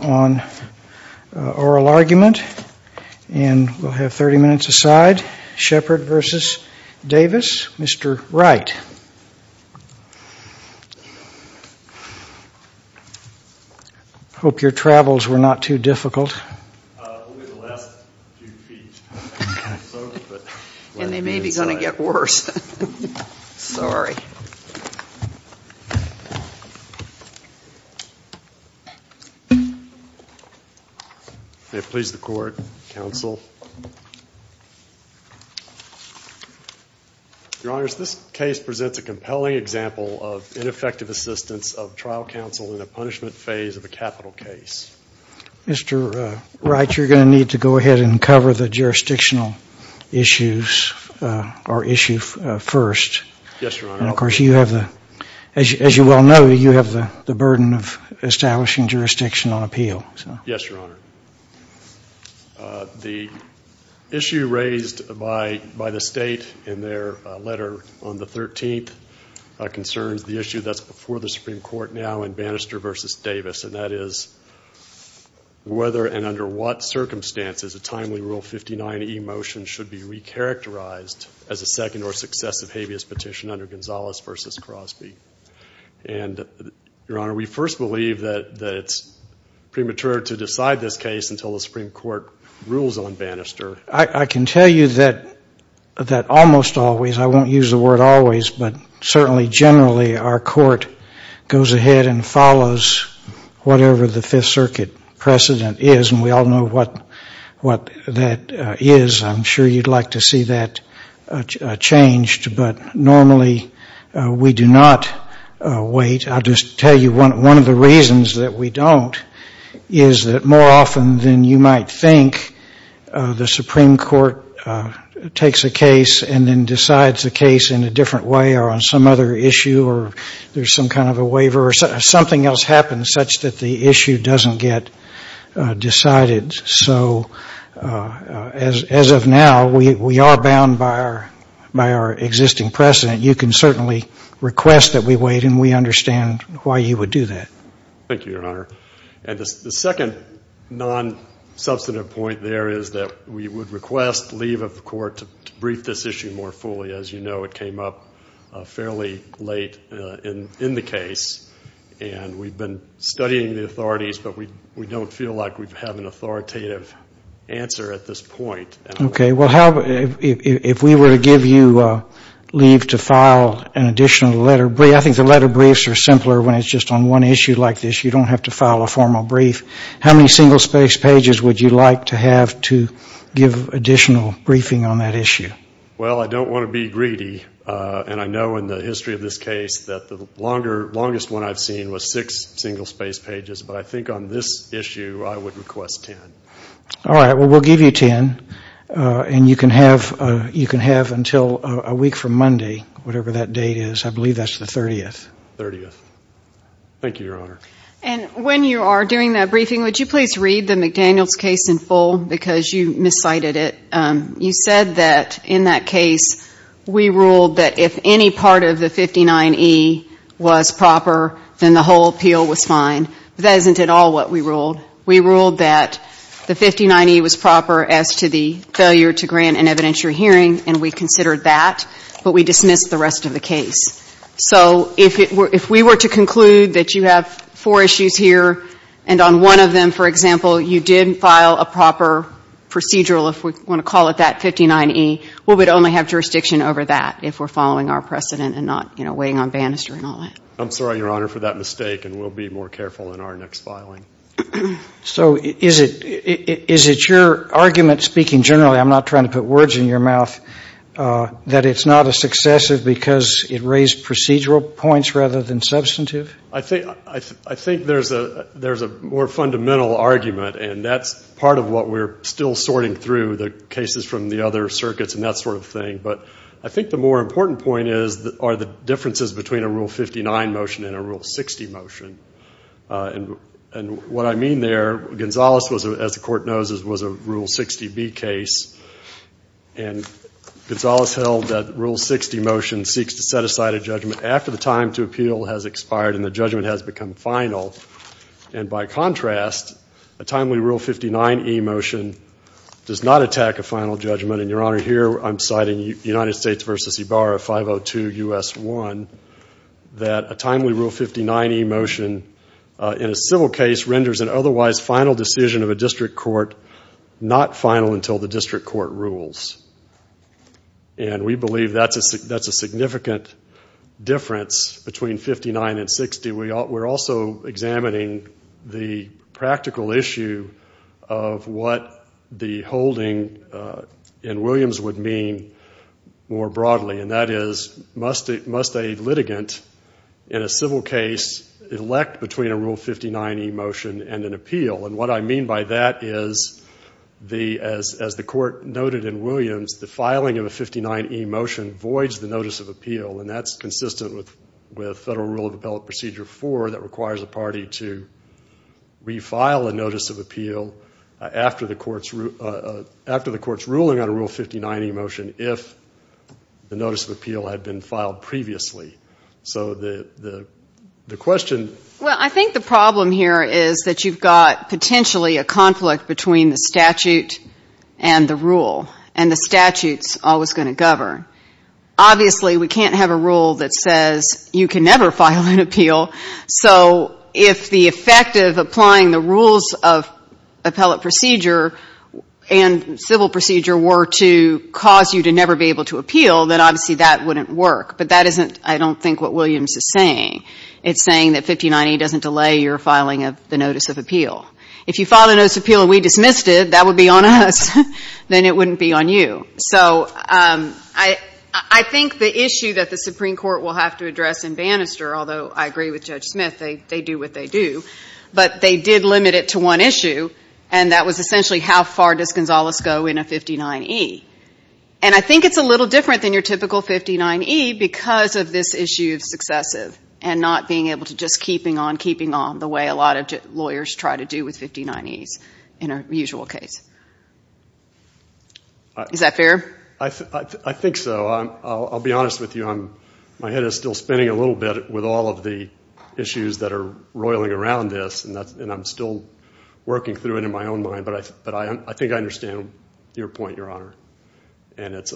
on Oral Argument, and we'll have 30 minutes aside. Sheppard v. Davis. Mr. Wright. I hope your travels were not too difficult. It will be the last few feet. And they may be going to get worse. Sorry. May it please the court, counsel. Your Honor, this case presents a compelling example of ineffective assistance of trial counsel in the punishment phase of a capital case. Mr. Wright, you're going to need to go ahead and cover the jurisdictional issues, or issue first. Yes, Your Honor. And of course, as you well know, you have the burden of establishing jurisdiction on appeal. Yes, Your Honor. The issue raised by the state in their letter on the 13th concerns the issue that's before the Supreme Court now in Bannister v. Davis, and that is whether and under what circumstances a timely Rule 59e motion should be recharacterized as a second or successive habeas petition under Gonzales v. Crosby. And, Your Honor, we first believe that it's premature to decide this case until the Supreme Court rules on Bannister. I can tell you that almost always, I won't use the word always, but certainly generally our court goes ahead and follows whatever the Fifth Circuit precedent is, and we all know what that is. I'm sure you'd like to see that changed. But normally we do not wait. I'll just tell you one of the reasons that we don't is that more often than you might think, the Supreme Court takes a case and then decides the case in a different way or on some other issue or there's some kind of a waiver or something else happens such that the issue doesn't get decided. So as of now, we are bound by our existing precedent. You can certainly request that we wait, and we understand why you would do that. Thank you, Your Honor. And the second non-substantive point there is that we would request leave of the court to brief this issue more fully. As you know, it came up fairly late in the case, and we've been studying the authorities, but we don't feel like we have an authoritative answer at this point. Okay. Well, if we were to give you leave to file an additional letter of briefs, I think the letter of briefs are simpler when it's just on one issue like this. You don't have to file a formal brief. How many single-space pages would you like to have to give additional briefing on that issue? Well, I don't want to be greedy, and I know in the history of this case that the longest one I've seen was six single-space pages, but I think on this issue I would request ten. All right. Well, we'll give you ten, and you can have until a week from Monday, whatever that date is. I believe that's the 30th. 30th. Thank you, Your Honor. And when you are doing that briefing, would you please read the McDaniels case in full because you miscited it? You said that in that case we ruled that if any part of the 59E was proper, then the whole appeal was fine. That isn't at all what we ruled. We ruled that the 59E was proper as to the failure to grant an evidentiary hearing, and we considered that, but we dismissed the rest of the case. So if we were to conclude that you have four issues here, and on one of them, for example, you did file a proper procedural, if we want to call it that, 59E, well, we'd only have jurisdiction over that if we're following our precedent and not, you know, weighing on banister and all that. I'm sorry, Your Honor, for that mistake, and we'll be more careful in our next filing. So is it your argument, speaking generally, I'm not trying to put words in your mouth, that it's not a successive because it raised procedural points rather than substantive? I think there's a more fundamental argument, and that's part of what we're still sorting through, the cases from the other circuits and that sort of thing. But I think the more important point are the differences between a Rule 59 motion and a Rule 60 motion. And what I mean there, Gonzales, as the Court knows, was a Rule 60B case, and Gonzales held that Rule 60 motion seeks to set aside a judgment after the time to appeal has expired and the judgment has become final. And by contrast, a timely Rule 59E motion does not attack a final judgment. And, Your Honor, here I'm citing United States v. Ibarra, 502 U.S. 1, that a timely Rule 59E motion in a civil case renders an otherwise final decision of a district court not final until the district court rules. And we believe that's a significant difference between 59 and 60. We're also examining the practical issue of what the holding in Williams would mean more broadly, and that is, must a litigant in a civil case elect between a Rule 59E motion and an appeal? And what I mean by that is, as the Court noted in Williams, the filing of a 59E motion voids the notice of appeal, and that's consistent with Federal Rule of Appellate Procedure 4 that requires a party to refile a notice of appeal after the Court's ruling on a Rule 59E motion if the notice of appeal had been filed previously. So the question — Well, I think the problem here is that you've got potentially a conflict between the statute and the rule, and the statute's always going to govern. Obviously, we can't have a rule that says you can never file an appeal. So if the effect of applying the rules of appellate procedure and civil procedure were to cause you to never be able to appeal, then obviously that wouldn't work. But that isn't, I don't think, what Williams is saying. It's saying that 59E doesn't delay your filing of the notice of appeal. If you file the notice of appeal and we dismissed it, that would be on us. Then it wouldn't be on you. So I think the issue that the Supreme Court will have to address in Bannister, although I agree with Judge Smith, they do what they do, but they did limit it to one issue, and that was essentially how far does Gonzales go in a 59E. And I think it's a little different than your typical 59E because of this issue of successive and not being able to just keeping on keeping on the way a lot of lawyers try to do with 59Es in a usual case. Is that fair? I think so. I'll be honest with you. My head is still spinning a little bit with all of the issues that are roiling around this, and I'm still working through it in my own mind, but I think I understand your point, Your Honor. And it's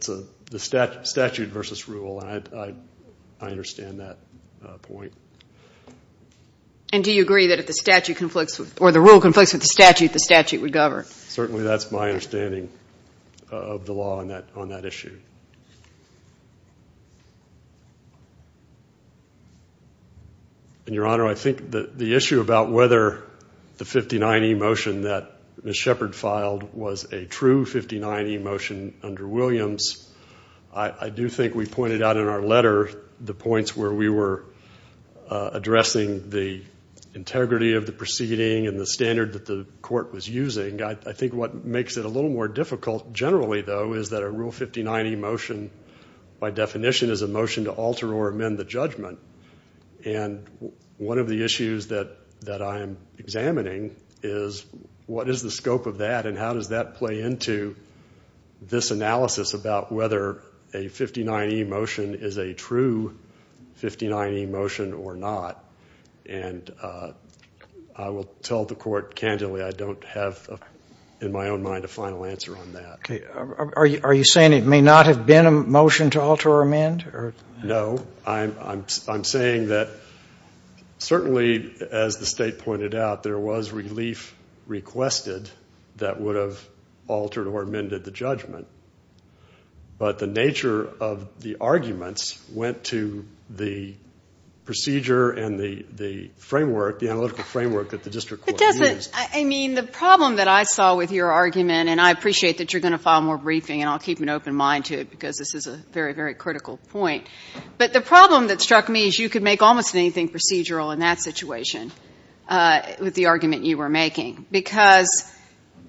the statute versus rule, and I understand that point. And do you agree that if the rule conflicts with the statute, the statute would govern? Certainly that's my understanding of the law on that issue. And, Your Honor, I think the issue about whether the 59E motion that Ms. Shepard filed was a true 59E motion under Williams, I do think we pointed out in our letter the points where we were addressing the integrity of the proceeding and the standard that the court was using. I think what makes it a little more difficult generally, though, is that a Rule 59E motion by definition is a motion to alter or amend the judgment. And one of the issues that I'm examining is what is the scope of that and how does that play into this analysis about whether a 59E motion is a true 59E motion or not. And I will tell the court candidly I don't have in my own mind a final answer on that. Okay. Are you saying it may not have been a motion to alter or amend? No. I'm saying that certainly, as the State pointed out, there was relief requested that would have altered or amended the judgment. But the nature of the arguments went to the procedure and the framework, the analytical framework that the district court used. I mean, the problem that I saw with your argument, and I appreciate that you're going to file more briefing and I'll keep an open mind to it because this is a very, very critical point, but the problem that struck me is you could make almost anything procedural in that situation with the argument you were making, because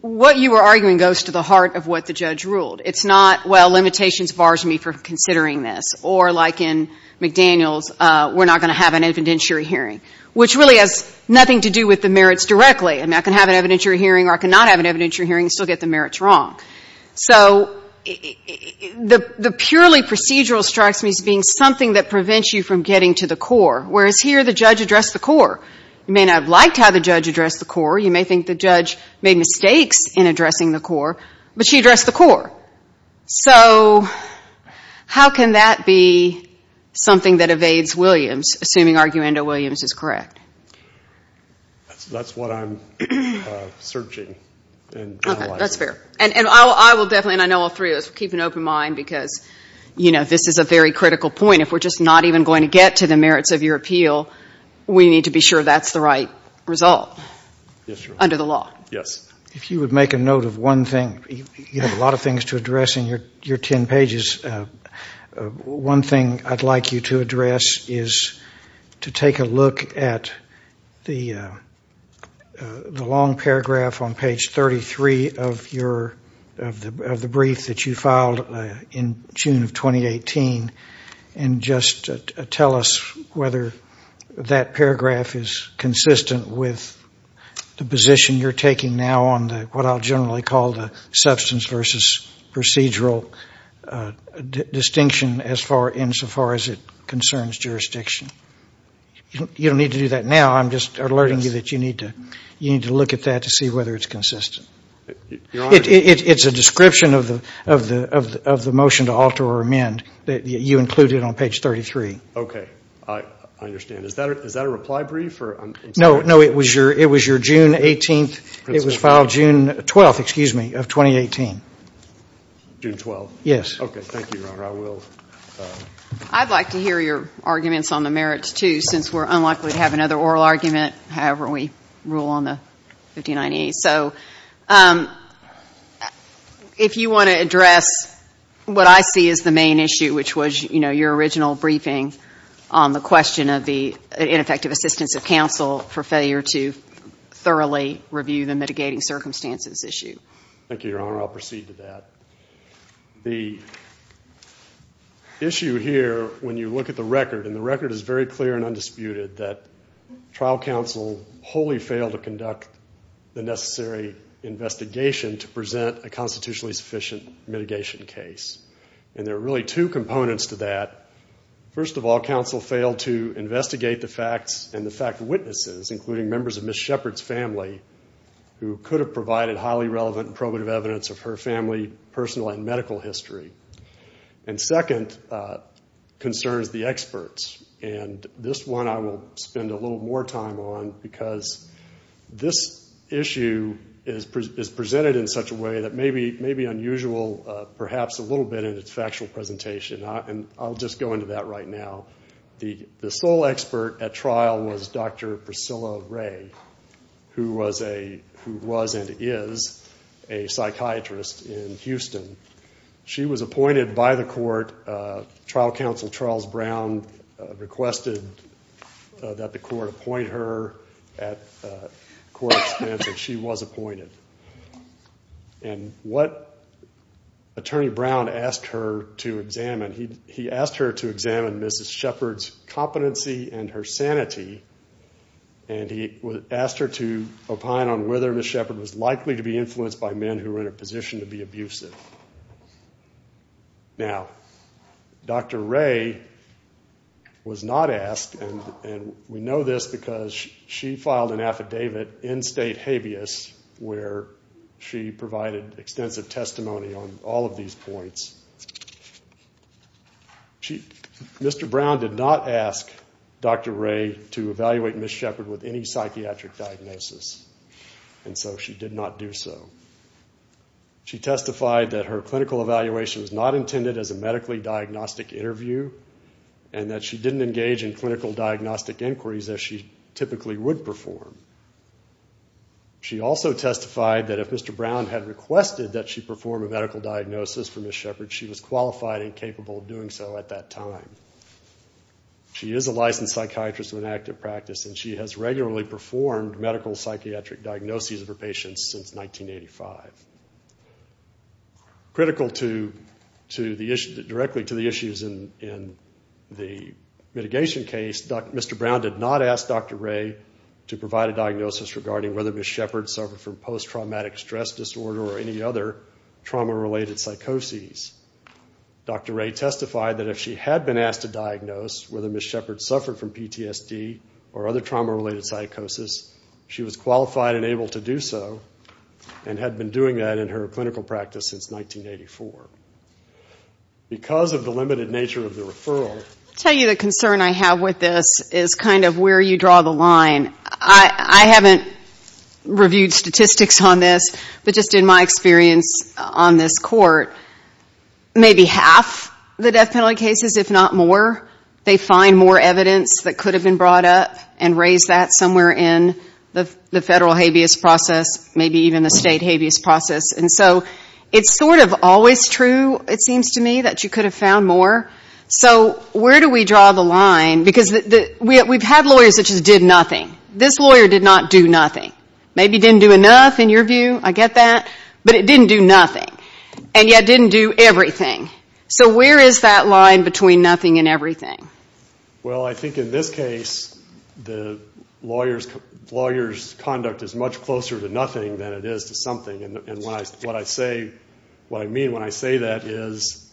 what you were arguing goes to the heart of what the judge ruled. It's not, well, limitations bars me from considering this, or like in McDaniel's, we're not going to have an evidentiary hearing, which really has nothing to do with the merits directly. I mean, I can have an evidentiary hearing or I cannot have an evidentiary hearing and still get the merits wrong. So the purely procedural strikes me as being something that prevents you from getting to the core, whereas here the judge addressed the core. You may not have liked how the judge addressed the core. You may think the judge made mistakes in addressing the core, but she addressed the core. So how can that be something that evades Williams, assuming Arguendo-Williams is correct? That's what I'm searching and analyzing. Okay. That's fair. And I will definitely, and I know all three of us, keep an open mind because, you know, this is a very critical point. If we're just not even going to get to the merits of your appeal, we need to be sure that's the right result under the law. Yes. If you would make a note of one thing, you have a lot of things to address in your 10 pages. One thing I'd like you to address is to take a look at the long paragraph on page 33 of the brief that you filed in June of 2018 and just tell us whether that paragraph is consistent with the position you're taking now on what I'll generally call the substance versus procedural distinction insofar as it concerns jurisdiction. You don't need to do that now. I'm just alerting you that you need to look at that to see whether it's consistent. It's a description of the motion to alter or amend that you included on page 33. Okay. I understand. Is that a reply brief? No, no. It was your June 18th. It was filed June 12th, excuse me, of 2018. June 12th? Yes. Okay. Thank you, Your Honor. I'd like to hear your arguments on the merits, too, since we're unlikely to have another oral argument, however we rule on the 1598. So if you want to address what I see as the main issue, which was, you know, your original briefing on the question of the ineffective assistance of counsel for failure to thoroughly review the mitigating circumstances issue. Thank you, Your Honor. I'll proceed to that. The issue here when you look at the record, and the record is very clear and undisputed, that trial counsel wholly failed to conduct the necessary investigation to present a constitutionally sufficient mitigation case. And there are really two components to that. First of all, counsel failed to investigate the facts and the fact witnesses, including members of Ms. Shepard's family, who could have provided highly relevant probative evidence of her family personal and medical history. And second concerns the experts. And this one I will spend a little more time on because this issue is presented in such a way that may be unusual, perhaps a little bit in its factual presentation. And I'll just go into that right now. The sole expert at trial was Dr. Priscilla Ray, who was and is a psychiatrist in Houston. She was appointed by the court. Trial counsel Charles Brown requested that the court appoint her at court expense, and she was appointed. And what Attorney Brown asked her to examine, he asked her to examine Ms. Shepard's competency and her sanity, and he asked her to opine on whether Ms. Shepard was likely to be influenced by men who were in a position to be abusive. Now, Dr. Ray was not asked, and we know this because she filed an affidavit in state habeas where she provided extensive testimony on all of these points. Mr. Brown did not ask Dr. Ray to evaluate Ms. Shepard with any psychiatric diagnosis, and so she did not do so. She testified that her clinical evaluation was not intended as a medically diagnostic interview and that she didn't engage in clinical diagnostic inquiries as she typically would perform. She also testified that if Mr. Brown had requested that she perform a medical diagnosis for Ms. Shepard, she was qualified and capable of doing so at that time. She is a licensed psychiatrist with an active practice, and she has regularly performed medical psychiatric diagnoses of her patients since 1985. Critical directly to the issues in the mitigation case, Mr. Brown did not ask Dr. Ray to provide a diagnosis regarding whether Ms. Shepard suffered from post-traumatic stress disorder or any other trauma-related psychoses. Dr. Ray testified that if she had been asked to diagnose whether Ms. Shepard suffered from PTSD or other trauma-related psychoses, she was qualified and able to do so and had been doing that in her clinical practice since 1984. Because of the limited nature of the referral... I'll tell you the concern I have with this is kind of where you draw the line. I haven't reviewed statistics on this, but just in my experience on this court, maybe half the death penalty cases, if not more, they find more evidence that could have been brought up and raise that somewhere in the federal habeas process, maybe even the state habeas process. And so it's sort of always true, it seems to me, that you could have found more. So where do we draw the line? Because we've had lawyers that just did nothing. This lawyer did not do nothing. Maybe didn't do enough, in your view. I get that. But it didn't do nothing, and yet didn't do everything. So where is that line between nothing and everything? Well, I think in this case, the lawyer's conduct is much closer to nothing than it is to something. And what I mean when I say that is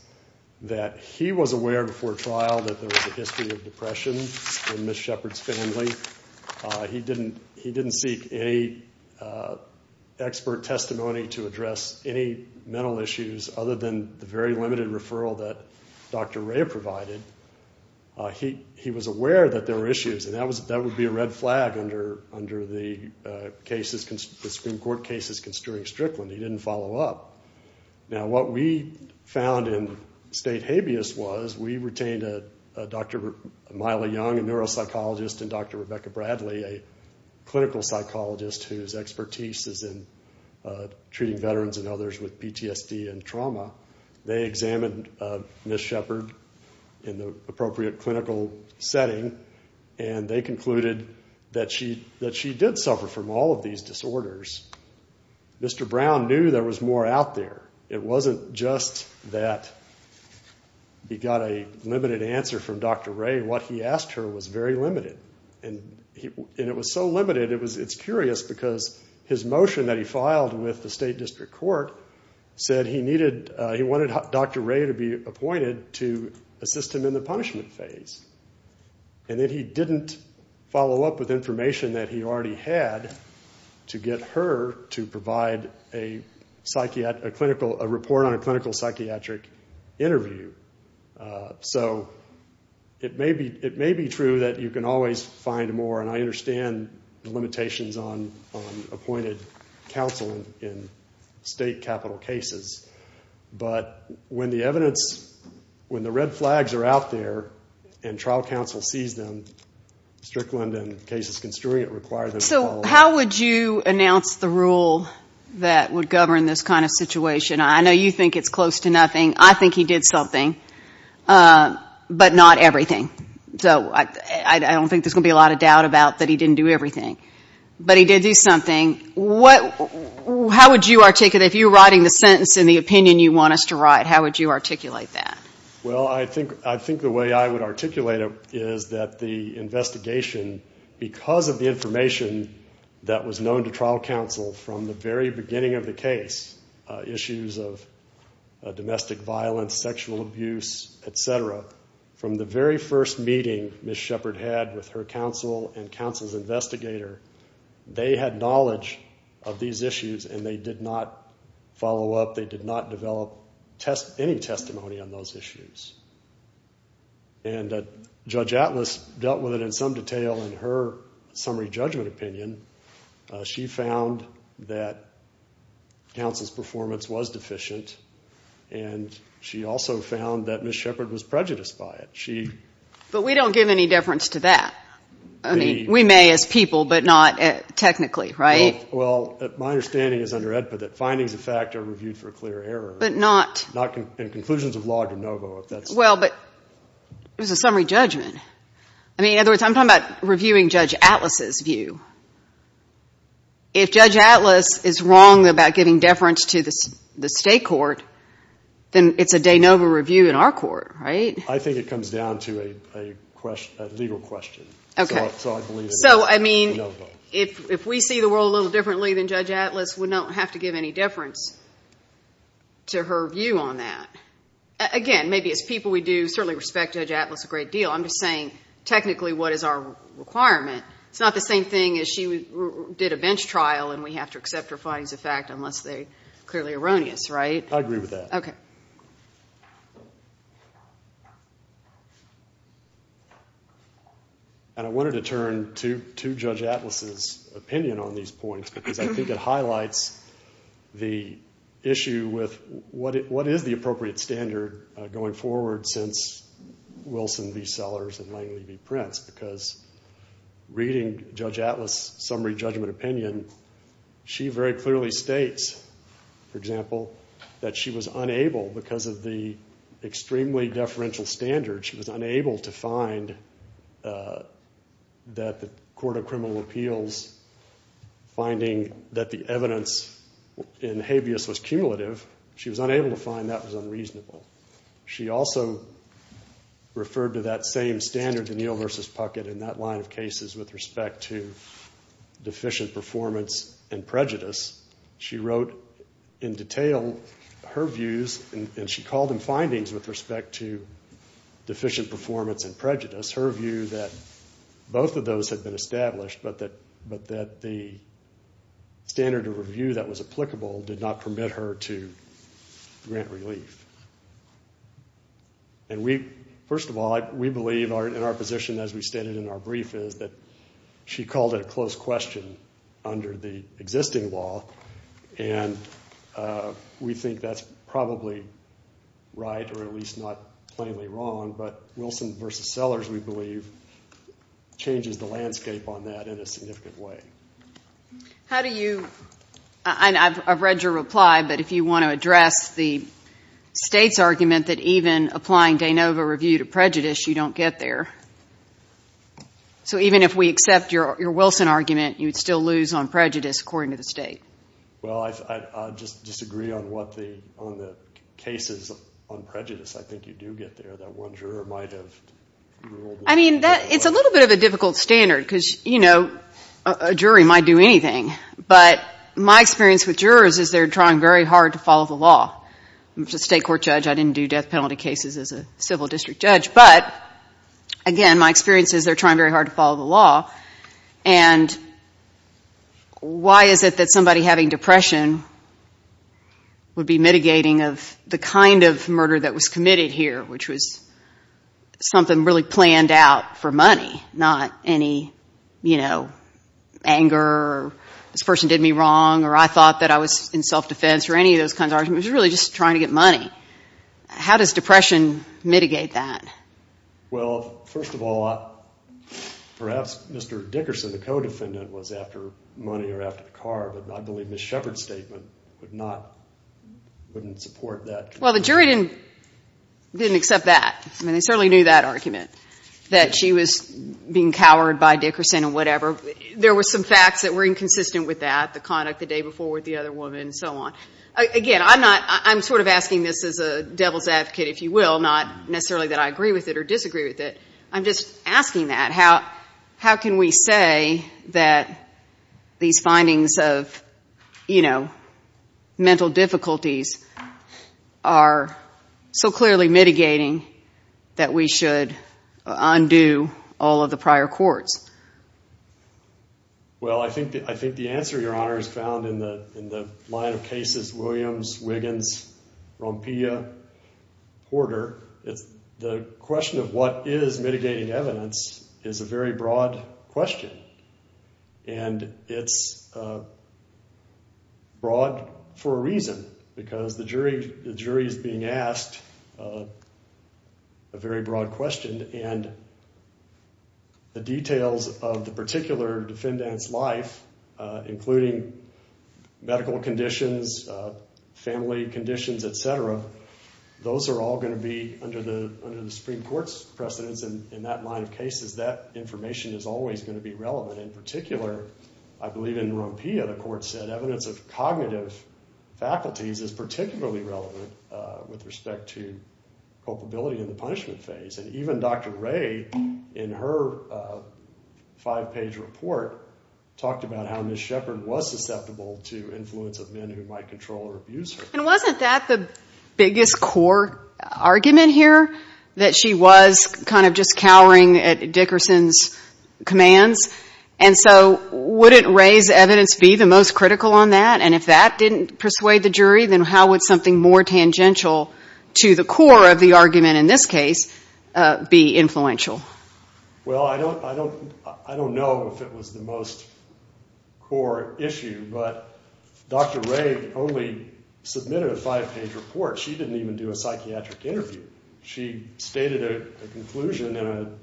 that he was aware before trial that there was a history of depression in Ms. Shepard's family. He didn't seek any expert testimony to address any mental issues other than the very limited referral that Dr. Ray provided. He was aware that there were issues, and that would be a red flag under the Supreme Court cases concerning Strickland. He didn't follow up. Now what we found in state habeas was we retained Dr. Myla Young, a neuropsychologist, and Dr. Rebecca Bradley, a clinical psychologist whose expertise is in treating veterans and others with PTSD and trauma. They examined Ms. Shepard in the appropriate clinical setting, and they concluded that she did suffer from all of these disorders. Mr. Brown knew there was more out there. It wasn't just that he got a limited answer from Dr. Ray. What he asked her was very limited, and it was so limited, it's curious because his motion that he filed with the state district court said he wanted Dr. Ray to be appointed to assist him in the punishment phase, and that he didn't follow up with information that he already had to get her to provide a report on a clinical psychiatric interview. So it may be true that you can always find more, and I understand the limitations on appointed counsel in state capital cases, but when the evidence, when the red flags are out there and trial counsel sees them, Strickland and cases construing it require them to follow up. So how would you announce the rule that would govern this kind of situation? I know you think it's close to nothing. I think he did something, but not everything. So I don't think there's going to be a lot of doubt about that he didn't do everything. But he did do something. How would you articulate it? If you were writing the sentence in the opinion you want us to write, how would you articulate that? Well, I think the way I would articulate it is that the investigation, because of the information that was known to trial counsel from the very beginning of the case, issues of domestic violence, sexual abuse, et cetera, from the very first meeting Ms. Shepard had with her counsel and counsel's investigator, they had knowledge of these issues and they did not follow up, they did not develop any testimony on those issues. And Judge Atlas dealt with it in some detail in her summary judgment opinion. She found that counsel's performance was deficient and she also found that Ms. Shepard was prejudiced by it. But we don't give any deference to that. I mean, we may as people, but not technically, right? Well, my understanding is under AEDPA that findings of fact are reviewed for clear error. But not? Not in conclusions of law de novo. Well, but it was a summary judgment. I mean, in other words, I'm talking about reviewing Judge Atlas' view. If Judge Atlas is wrong about giving deference to the state court, then it's a de novo review in our court, right? I think it comes down to a legal question. Okay. So I believe it is de novo. So, I mean, if we see the world a little differently than Judge Atlas, we don't have to give any deference to her view on that. Again, maybe as people we do certainly respect Judge Atlas a great deal. I'm just saying, technically, what is our requirement? It's not the same thing as she did a bench trial and we have to accept her findings of fact unless they're clearly erroneous, right? I agree with that. Okay. And I wanted to turn to Judge Atlas' opinion on these points because I think it highlights the issue with what is the appropriate standard going forward since Wilson v. Sellers and Langley v. Prince because reading Judge Atlas' summary judgment opinion, she very clearly states, for example, that she was unable, because of the extremely deferential standards, she was unable to find that the Court of Criminal Appeals finding that the evidence in habeas was cumulative. She was unable to find that was unreasonable. She also referred to that same standard, DeNeal v. Puckett, in that line of cases with respect to deficient performance and prejudice. She wrote in detail her views, and she called them findings with respect to deficient performance and prejudice, her view that both of those had been established but that the standard of review that was applicable did not permit her to grant relief. And first of all, we believe in our position, as we stated in our brief, is that she called it a close question under the existing law, and we think that's probably right or at least not plainly wrong, but Wilson v. Sellers, we believe, changes the landscape on that in a significant way. How do you ‑‑ and I've read your reply, but if you want to address the State's argument that even applying de novo review to prejudice, you don't get there. So even if we accept your Wilson argument, you would still lose on prejudice, according to the State. Well, I disagree on the cases on prejudice. I think you do get there. That one juror might have ruled ‑‑ I mean, it's a little bit of a difficult standard because, you know, a jury might do anything, but my experience with jurors is they're trying very hard to follow the law. As a State court judge, I didn't do death penalty cases as a civil district judge, but, again, my experience is they're trying very hard to follow the law, and why is it that somebody having depression would be mitigating of the kind of murder that was committed here, which was something really planned out for money, not any, you know, anger or this person did me wrong or I thought that I was in self‑defense or any of those kinds of arguments. It was really just trying to get money. How does depression mitigate that? Well, first of all, perhaps Mr. Dickerson, the co‑defendant, was after money or after the car, but I believe Ms. Shepherd's statement would not ‑‑ wouldn't support that. Well, the jury didn't accept that. I mean, they certainly knew that argument, that she was being cowered by Dickerson and whatever. There were some facts that were inconsistent with that, the conduct the day before with the other woman and so on. Again, I'm not ‑‑ I'm sort of asking this as a devil's advocate, if you will, not necessarily that I agree with it or disagree with it. I'm just asking that. How can we say that these findings of, you know, mental difficulties are so clearly mitigating that we should undo all of the prior courts? Well, I think the answer, Your Honor, is found in the line of cases, Williams, Wiggins, Rompilla, Porter. The question of what is mitigating evidence is a very broad question and it's broad for a reason, because the jury is being asked a very broad question and the details of the particular defendant's life, including medical conditions, family conditions, et cetera, those are all going to be under the Supreme Court's precedence and in that line of cases, that information is always going to be relevant. In particular, I believe in Rompilla, the court said evidence of cognitive faculties is particularly relevant with respect to culpability in the punishment phase. And even Dr. Ray, in her five‑page report, talked about how Ms. Sheppard was susceptible to influence of men who might control or abuse her. And wasn't that the biggest core argument here, that she was kind of just cowering at Dickerson's commands? And so wouldn't Ray's evidence be the most critical on that? And if that didn't persuade the jury, then how would something more tangential to the core of the argument in this case be influential? Well, I don't know if it was the most core issue, but Dr. Ray only submitted a five‑page report. She didn't even do a psychiatric interview. She stated a conclusion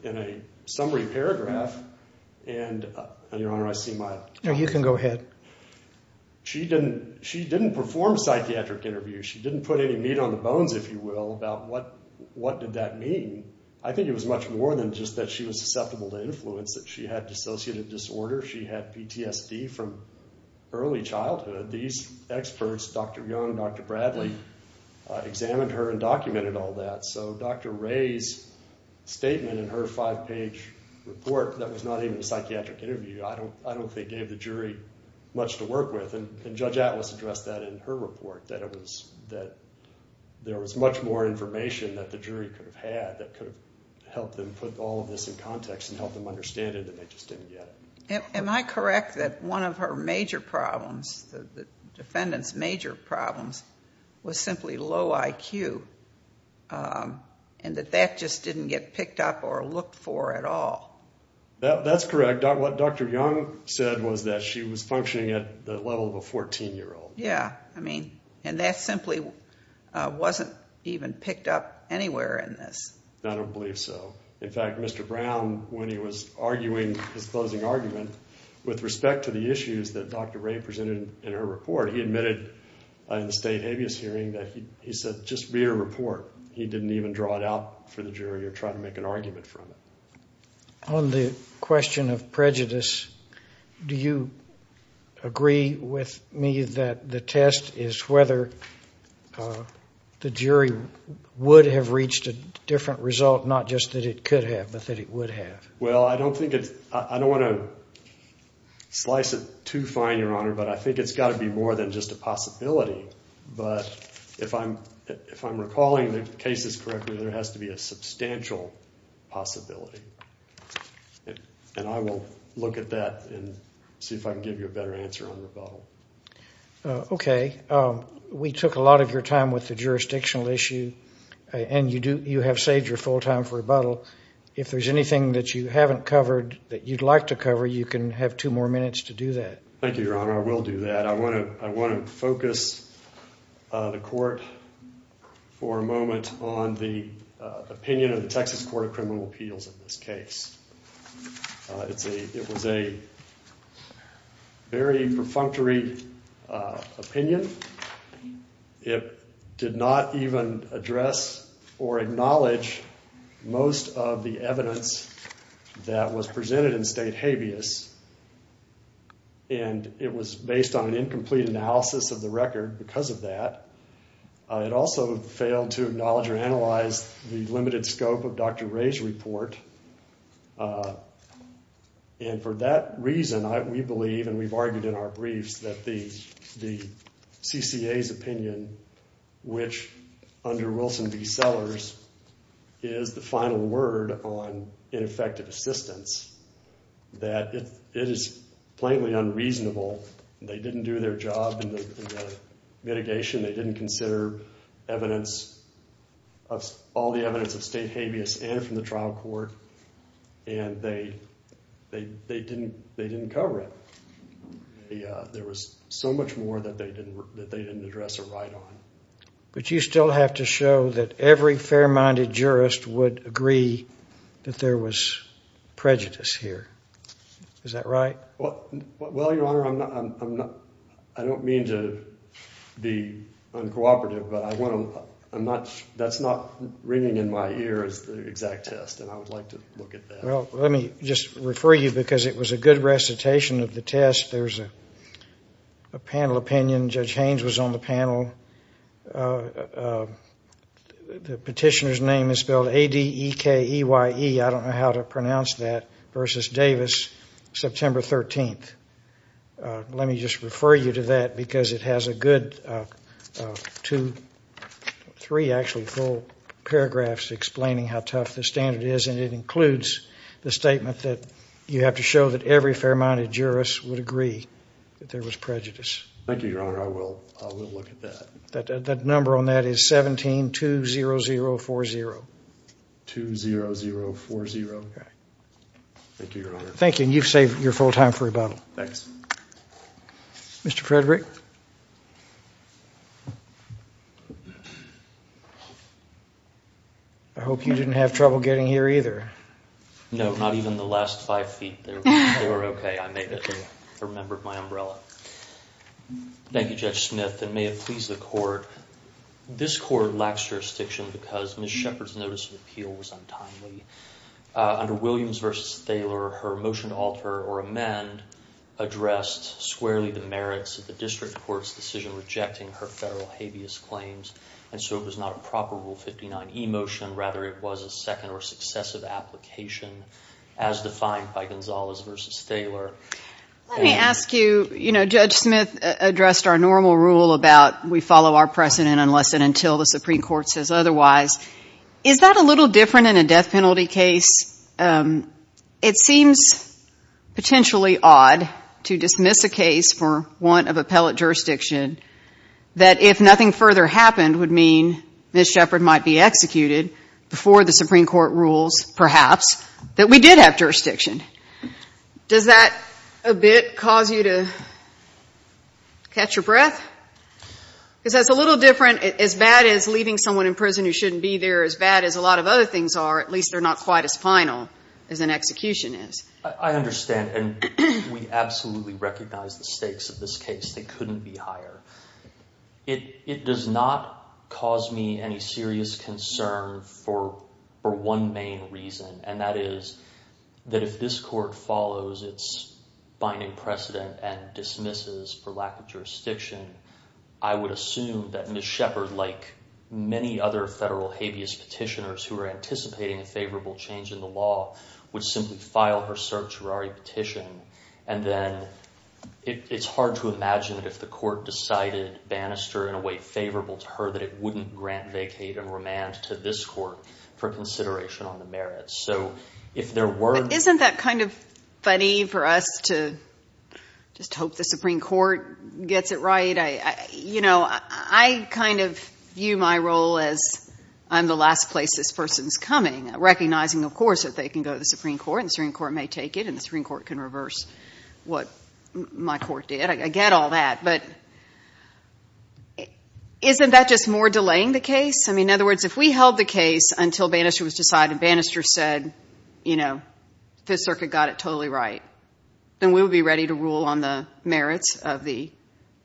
in a summary paragraph. And, Your Honor, I see my— No, you can go ahead. She didn't perform a psychiatric interview. She didn't put any meat on the bones, if you will, about what did that mean. I think it was much more than just that she was susceptible to influence, that she had dissociative disorder. She had PTSD from early childhood. These experts, Dr. Young, Dr. Bradley, examined her and documented all that. So Dr. Ray's statement in her five‑page report, that was not even a psychiatric interview, I don't think gave the jury much to work with. And Judge Atlas addressed that in her report, that there was much more information that the jury could have had that could have helped them put all of this in context and helped them understand it, and they just didn't get it. Am I correct that one of her major problems, the defendant's major problems, was simply low IQ, and that that just didn't get picked up or looked for at all? That's correct. What Dr. Young said was that she was functioning at the level of a 14‑year‑old. Yeah, I mean, and that simply wasn't even picked up anywhere in this. I don't believe so. In fact, Mr. Brown, when he was arguing his closing argument, with respect to the issues that Dr. Ray presented in her report, he admitted in the state habeas hearing that he said just via report he didn't even draw it out for the jury or try to make an argument from it. On the question of prejudice, do you agree with me that the test is whether the jury would have reached a different result, not just that it could have, but that it would have? Well, I don't want to slice it too fine, Your Honor, but I think it's got to be more than just a possibility. But if I'm recalling the cases correctly, there has to be a substantial possibility, and I will look at that and see if I can give you a better answer on rebuttal. Okay. We took a lot of your time with the jurisdictional issue, and you have saved your full time for rebuttal. If there's anything that you haven't covered that you'd like to cover, you can have two more minutes to do that. Thank you, Your Honor. I will do that. I want to focus the court for a moment on the opinion of the Texas Court of Criminal Appeals in this case. It was a very perfunctory opinion. It did not even address or acknowledge most of the evidence that was presented in State habeas, and it was based on an incomplete analysis of the record because of that. It also failed to acknowledge or analyze the limited scope of Dr. Ray's report. And for that reason, we believe, and we've argued in our briefs, that the CCA's opinion, which under Wilson v. Sellers, is the final word on ineffective assistance, that it is plainly unreasonable. They didn't do their job in the mitigation. They didn't consider all the evidence of State habeas and from the trial court, and they didn't cover it. There was so much more that they didn't address or write on. But you still have to show that every fair-minded jurist would agree that there was prejudice here. Is that right? Well, Your Honor, I don't mean to be uncooperative, but that's not ringing in my ear as the exact test, and I would like to look at that. Well, let me just refer you, because it was a good recitation of the test. There's a panel opinion. Judge Haynes was on the panel. The petitioner's name is spelled A-D-E-K-E-Y-E. I don't know how to pronounce that, versus Davis, September 13th. Let me just refer you to that, because it has a good two, three actually full paragraphs explaining how tough the standard is, and it includes the statement that you have to show that every fair-minded jurist would agree that there was prejudice. Thank you, Your Honor. I will look at that. The number on that is 1720040. 20040. Okay. Thank you, Your Honor. Thank you, and you've saved your full time for rebuttal. Thanks. Mr. Frederick? I hope you didn't have trouble getting here either. No, not even the last five feet. They were okay. I made it. I remembered my umbrella. Thank you, Judge Smith, and may it please the Court, this Court lacks jurisdiction because Ms. Shepard's notice of appeal was untimely. Under Williams v. Thaler, her motion to alter or amend addressed squarely the merits of the district court's decision rejecting her federal habeas claims, and so it was not a proper Rule 59e motion. Rather, it was a second or successive application as defined by Gonzalez v. Thaler. Let me ask you, you know, Judge Smith addressed our normal rule about we follow our precedent unless and until the Supreme Court says otherwise. Is that a little different in a death penalty case? It seems potentially odd to dismiss a case for want of appellate jurisdiction, that if nothing further happened would mean Ms. Shepard might be executed before the Supreme Court rules, perhaps, that we did have jurisdiction. Does that a bit cause you to catch your breath? Because that's a little different, as bad as leaving someone in prison who shouldn't be there, as bad as a lot of other things are, at least they're not quite as final as an execution is. I understand, and we absolutely recognize the stakes of this case. They couldn't be higher. It does not cause me any serious concern for one main reason, and that is that if this Court follows its binding precedent and dismisses for lack of jurisdiction, I would assume that Ms. Shepard, like many other federal habeas petitioners who are anticipating a favorable change in the law, would simply file her certiorari petition, and then it's hard to imagine that if the Court decided Bannister in a way favorable to her that it wouldn't grant vacate and remand to this Court for consideration on the merits. So if there were... But isn't that kind of funny for us to just hope the Supreme Court gets it right? You know, I kind of view my role as I'm the last place this person's coming, recognizing, of course, that they can go to the Supreme Court and the Supreme Court may take it and the Supreme Court can reverse what my Court did. I get all that. But isn't that just more delaying the case? I mean, in other words, if we held the case until Bannister was decided, Bannister said, you know, Fifth Circuit got it totally right, then we would be ready to rule on the merits of the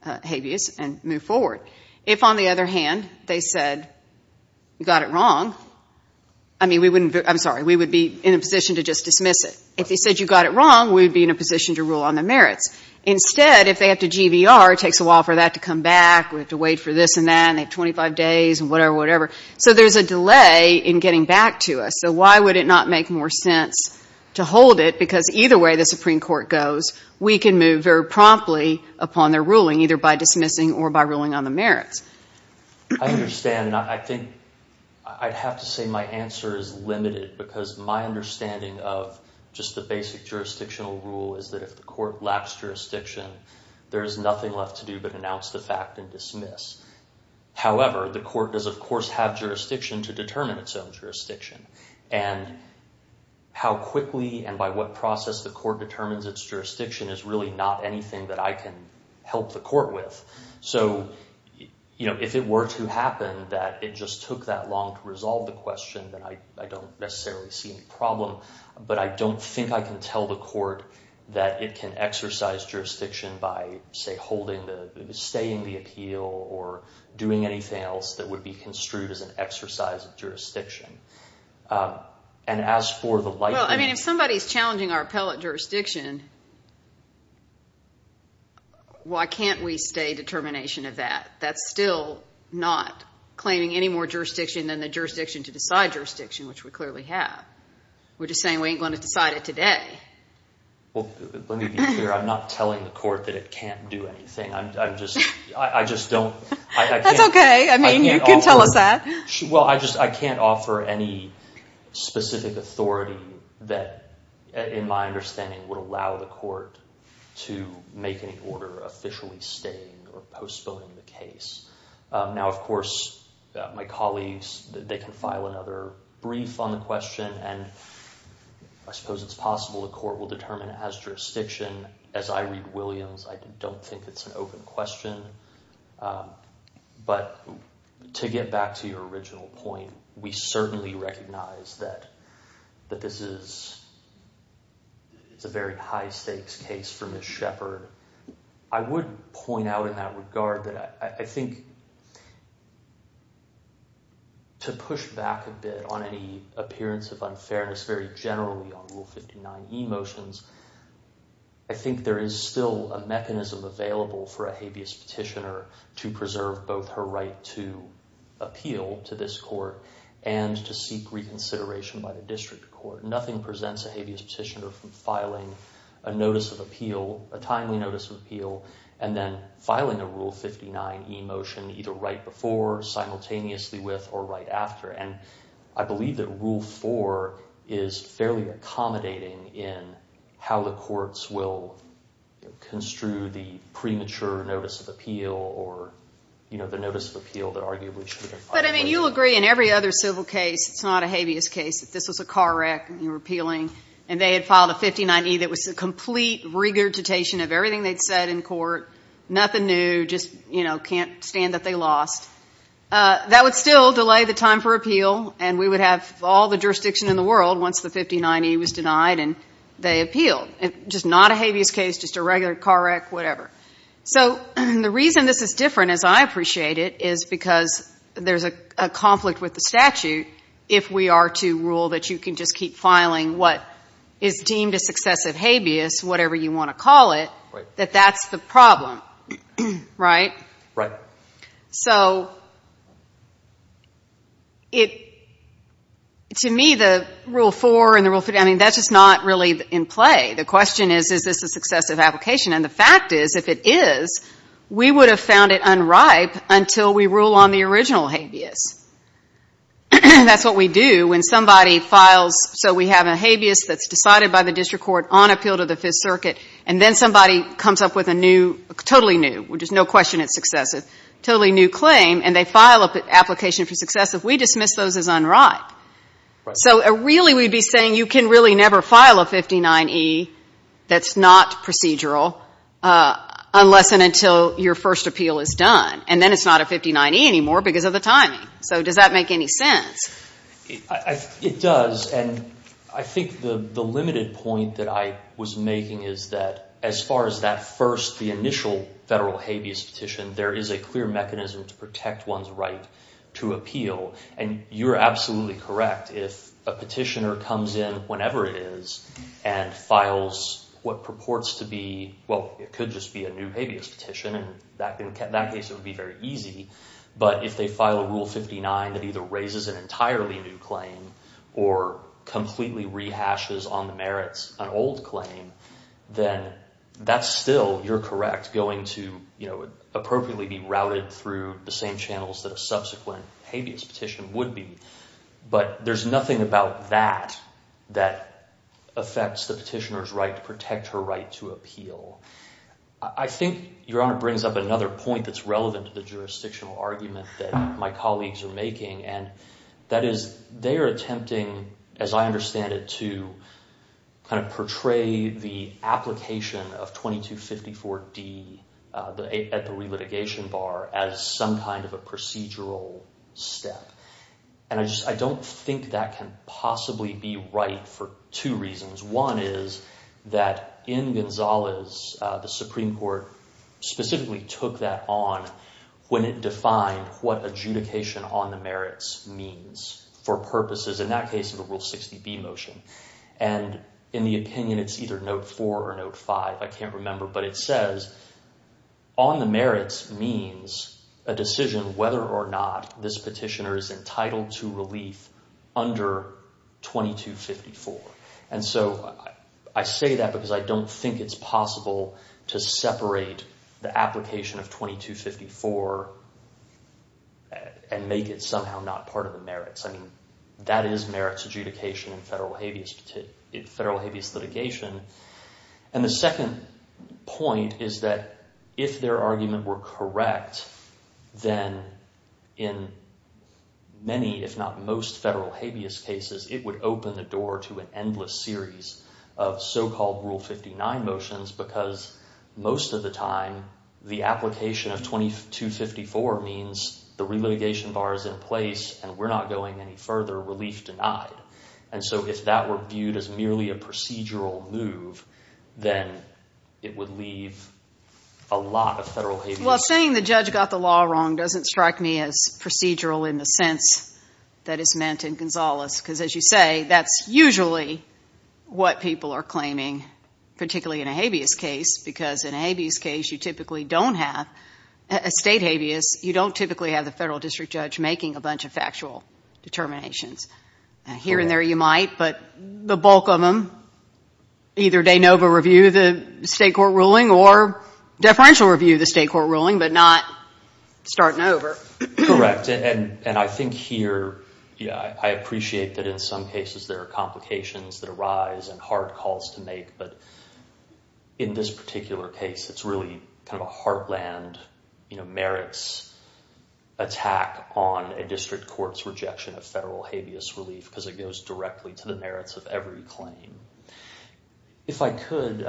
habeas and move forward. If, on the other hand, they said you got it wrong, I mean, we wouldn't be in a position to just dismiss it. If they said you got it wrong, we would be in a position to rule on the merits. Instead, if they have to GVR, it takes a while for that to come back. We have to wait for this and that, and they have 25 days and whatever, whatever. So there's a delay in getting back to us. So why would it not make more sense to hold it? Because either way the Supreme Court goes, we can move very promptly upon their ruling, either by dismissing or by ruling on the merits. I understand, and I think I'd have to say my answer is limited because my understanding of just the basic jurisdictional rule is that if the court lacks jurisdiction, there is nothing left to do but announce the fact and dismiss. However, the court does, of course, have jurisdiction to determine its own jurisdiction, and how quickly and by what process the court determines its jurisdiction is really not anything that I can help the court with. So if it were to happen that it just took that long to resolve the question, then I don't necessarily see any problem, but I don't think I can tell the court that it can exercise jurisdiction by, say, staying the appeal or doing anything else that would be construed as an exercise of jurisdiction. Well, I mean, if somebody's challenging our appellate jurisdiction, why can't we stay determination of that? That's still not claiming any more jurisdiction than the jurisdiction to decide jurisdiction, which we clearly have. We're just saying we ain't going to decide it today. Well, let me be clear. I'm not telling the court that it can't do anything. I just don't. That's okay. I mean, you can tell us that. Well, I just can't offer any specific authority that, in my understanding, would allow the court to make any order officially staying or postponing the case. Now, of course, my colleagues, they can file another brief on the question, and I suppose it's possible the court will determine it has jurisdiction. As I read Williams, I don't think it's an open question. But to get back to your original point, we certainly recognize that this is a very high-stakes case for Ms. Shepard. I would point out in that regard that I think to push back a bit on any appearance of unfairness, very generally on Rule 59e motions, I think there is still a mechanism available for a habeas petitioner to preserve both her right to appeal to this court and to seek reconsideration by the district court. Nothing presents a habeas petitioner from filing a notice of appeal, a timely notice of appeal, and then filing a Rule 59e motion either right before, simultaneously with, or right after. And I believe that Rule 4 is fairly accommodating in how the courts will construe the premature notice of appeal or, you know, the notice of appeal that arguably should have been filed. But, I mean, you'll agree in every other civil case, it's not a habeas case, if this was a car wreck and you were appealing and they had filed a 59e that was a complete regurgitation of everything they'd said in court, nothing new, just, you know, can't stand that they lost, that would still delay the time for appeal and we would have all the jurisdiction in the world once the 59e was denied and they appealed. Just not a habeas case, just a regular car wreck, whatever. So the reason this is different, as I appreciate it, is because there's a conflict with the statute if we are to rule that you can just keep filing what is deemed a successive habeas, whatever you want to call it, that that's the problem, right? Right. So, to me, the Rule 4 and the Rule 5, I mean, that's just not really in play. The question is, is this a successive application? And the fact is, if it is, we would have found it unripe until we rule on the original habeas. That's what we do when somebody files so we have a habeas that's decided by the district court on appeal to the Fifth Circuit and then somebody comes up with a new, totally new, which is no question it's successive, totally new claim, and they file an application for successive, we dismiss those as unripe. So really we'd be saying you can really never file a 59e that's not procedural unless and until your first appeal is done. And then it's not a 59e anymore because of the timing. So does that make any sense? It does, and I think the limited point that I was making is that as far as that first, the initial federal habeas petition, there is a clear mechanism to protect one's right to appeal. And you're absolutely correct if a petitioner comes in whenever it is and files what purports to be, well, it could just be a new habeas petition, and in that case it would be very easy. But if they file a Rule 59 that either raises an entirely new claim or completely rehashes on the merits an old claim, then that's still, you're correct, going to appropriately be routed through the same channels that a subsequent habeas petition would be. But there's nothing about that that affects the petitioner's right to protect her right to appeal. I think Your Honor brings up another point that's relevant to the jurisdictional argument that my colleagues are making, and that is they are attempting, as I understand it, to kind of portray the application of 2254D at the relitigation bar as some kind of a procedural step. And I don't think that can possibly be right for two reasons. One is that in Gonzalez, the Supreme Court specifically took that on when it defined what adjudication on the merits means for purposes, in that case, of the Rule 60B motion. And in the opinion, it's either Note 4 or Note 5, I can't remember, but it says on the merits means a decision whether or not this petitioner is entitled to relief under 2254. And so I say that because I don't think it's possible to separate the application of 2254 and make it somehow not part of the merits. I mean, that is merits adjudication in federal habeas litigation. And the second point is that if their argument were correct, then in many, if not most, federal habeas cases, it would open the door to an endless series of so-called Rule 59 motions because most of the time, the application of 2254 means the relitigation bar is in place and we're not going any further, relief denied. And so if that were viewed as merely a procedural move, then it would leave a lot of federal habeas. Well, saying the judge got the law wrong doesn't strike me as procedural in the sense that it's meant in Gonzales because, as you say, that's usually what people are claiming, particularly in a habeas case because in a habeas case, you typically don't have a state habeas. You don't typically have the federal district judge making a bunch of factual determinations. Here and there, you might, but the bulk of them, either de novo review the state court ruling or deferential review the state court ruling but not starting over. Correct, and I think here, I appreciate that in some cases there are complications that arise and hard calls to make, but in this particular case, it's really kind of a heartland merits attack on a district court's rejection of federal habeas relief because it goes directly to the merits of every claim. If I could...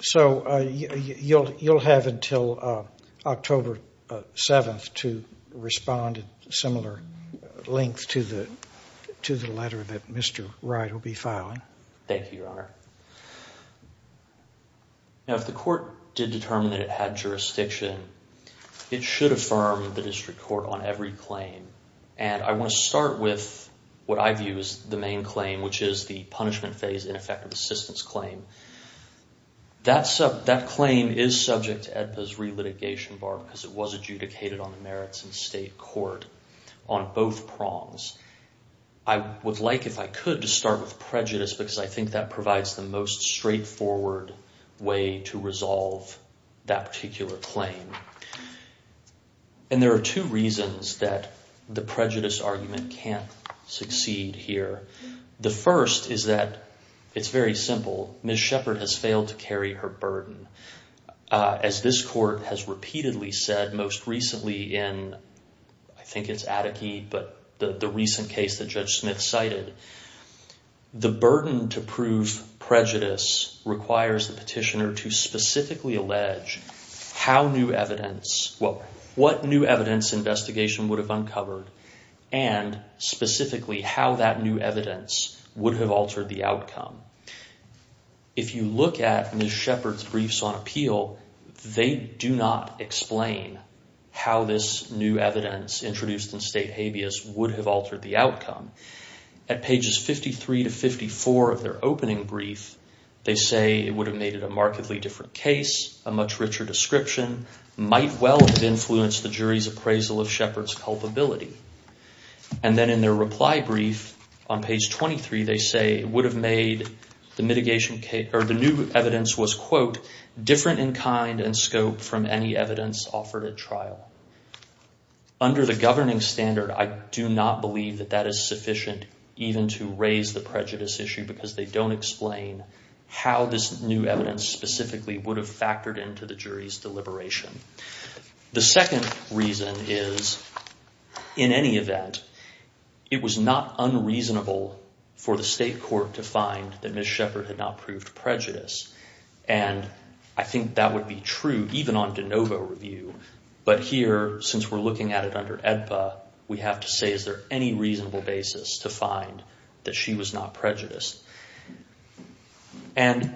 So you'll have until October 7th to respond at similar length to the letter that Mr. Wright will be filing. Thank you, Your Honor. Now, if the court did determine that it had jurisdiction, it should affirm the district court on every claim. And I want to start with what I view as the main claim, which is the punishment phase ineffective assistance claim. That claim is subject to AEDPA's relitigation bar because it was adjudicated on the merits in state court on both prongs. I would like, if I could, to start with prejudice because I think that provides the most straightforward way to resolve that particular claim. And there are two reasons that the prejudice argument can't succeed here. The first is that it's very simple. Ms. Shepard has failed to carry her burden. As this court has repeatedly said, most recently in, I think it's Atticke, but the recent case that Judge Smith cited, the burden to prove prejudice requires the petitioner to specifically allege how new evidence... well, what new evidence investigation would have uncovered and specifically how that new evidence would have altered the outcome. If you look at Ms. Shepard's briefs on appeal, they do not explain how this new evidence introduced in state habeas would have altered the outcome. At pages 53 to 54 of their opening brief, they say it would have made it a markedly different case, a much richer description, might well have influenced the jury's appraisal of Shepard's culpability. And then in their reply brief on page 23, they say it would have made the new evidence was, quote, different in kind and scope from any evidence offered at trial. Under the governing standard, I do not believe that that is sufficient even to raise the prejudice issue because they don't explain how this new evidence specifically would have factored into the jury's deliberation. The second reason is, in any event, it was not unreasonable for the state court to find that Ms. Shepard had not proved prejudice. And I think that would be true even on de novo review. But here, since we're looking at it under AEDPA, we have to say, is there any reasonable basis to find that she was not prejudiced? And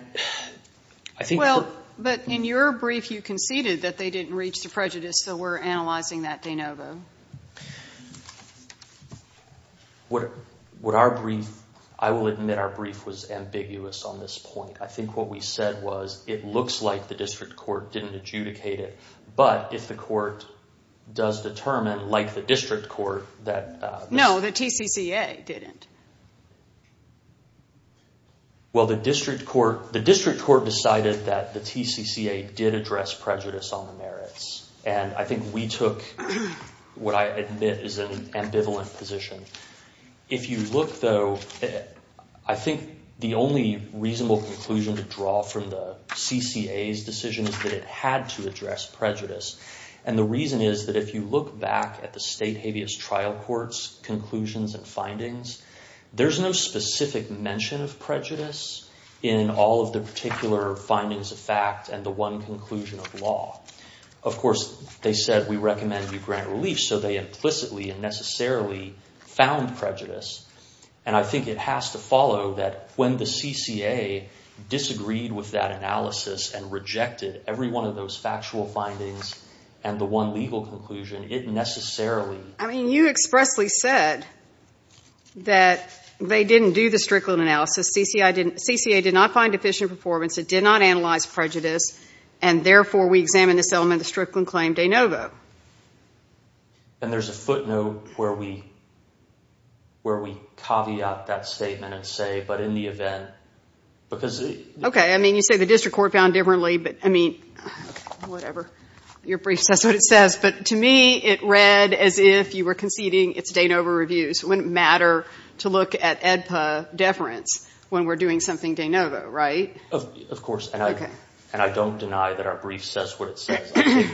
I think that – Well, but in your brief, you conceded that they didn't reach the prejudice, so we're analyzing that de novo. What our brief – I will admit our brief was ambiguous on this point. I think what we said was it looks like the district court didn't adjudicate it. But if the court does determine, like the district court, that – No, the TCCA didn't. Well, the district court decided that the TCCA did address prejudice on the merits. And I think we took what I admit is an ambivalent position. If you look, though, I think the only reasonable conclusion to draw from the CCA's decision is that it had to address prejudice. And the reason is that if you look back at the state habeas trial court's conclusions and findings, there's no specific mention of prejudice in all of the particular findings of fact and the one conclusion of law. Of course, they said we recommend you grant relief, so they implicitly and necessarily found prejudice. And I think it has to follow that when the CCA disagreed with that analysis and rejected every one of those factual findings and the one legal conclusion, it necessarily – I mean, you expressly said that they didn't do the Strickland analysis. CCA did not find deficient performance. It did not analyze prejudice. And therefore, we examine this element of the Strickland claim de novo. And there's a footnote where we caveat that statement and say, but in the event, because – Okay. I mean, you say the district court found differently, but, I mean, whatever. Your brief says what it says. But to me, it read as if you were conceding it's de novo reviews. It wouldn't matter to look at AEDPA deference when we're doing something de novo, right? Of course. Okay. And I don't deny that our brief says what it says.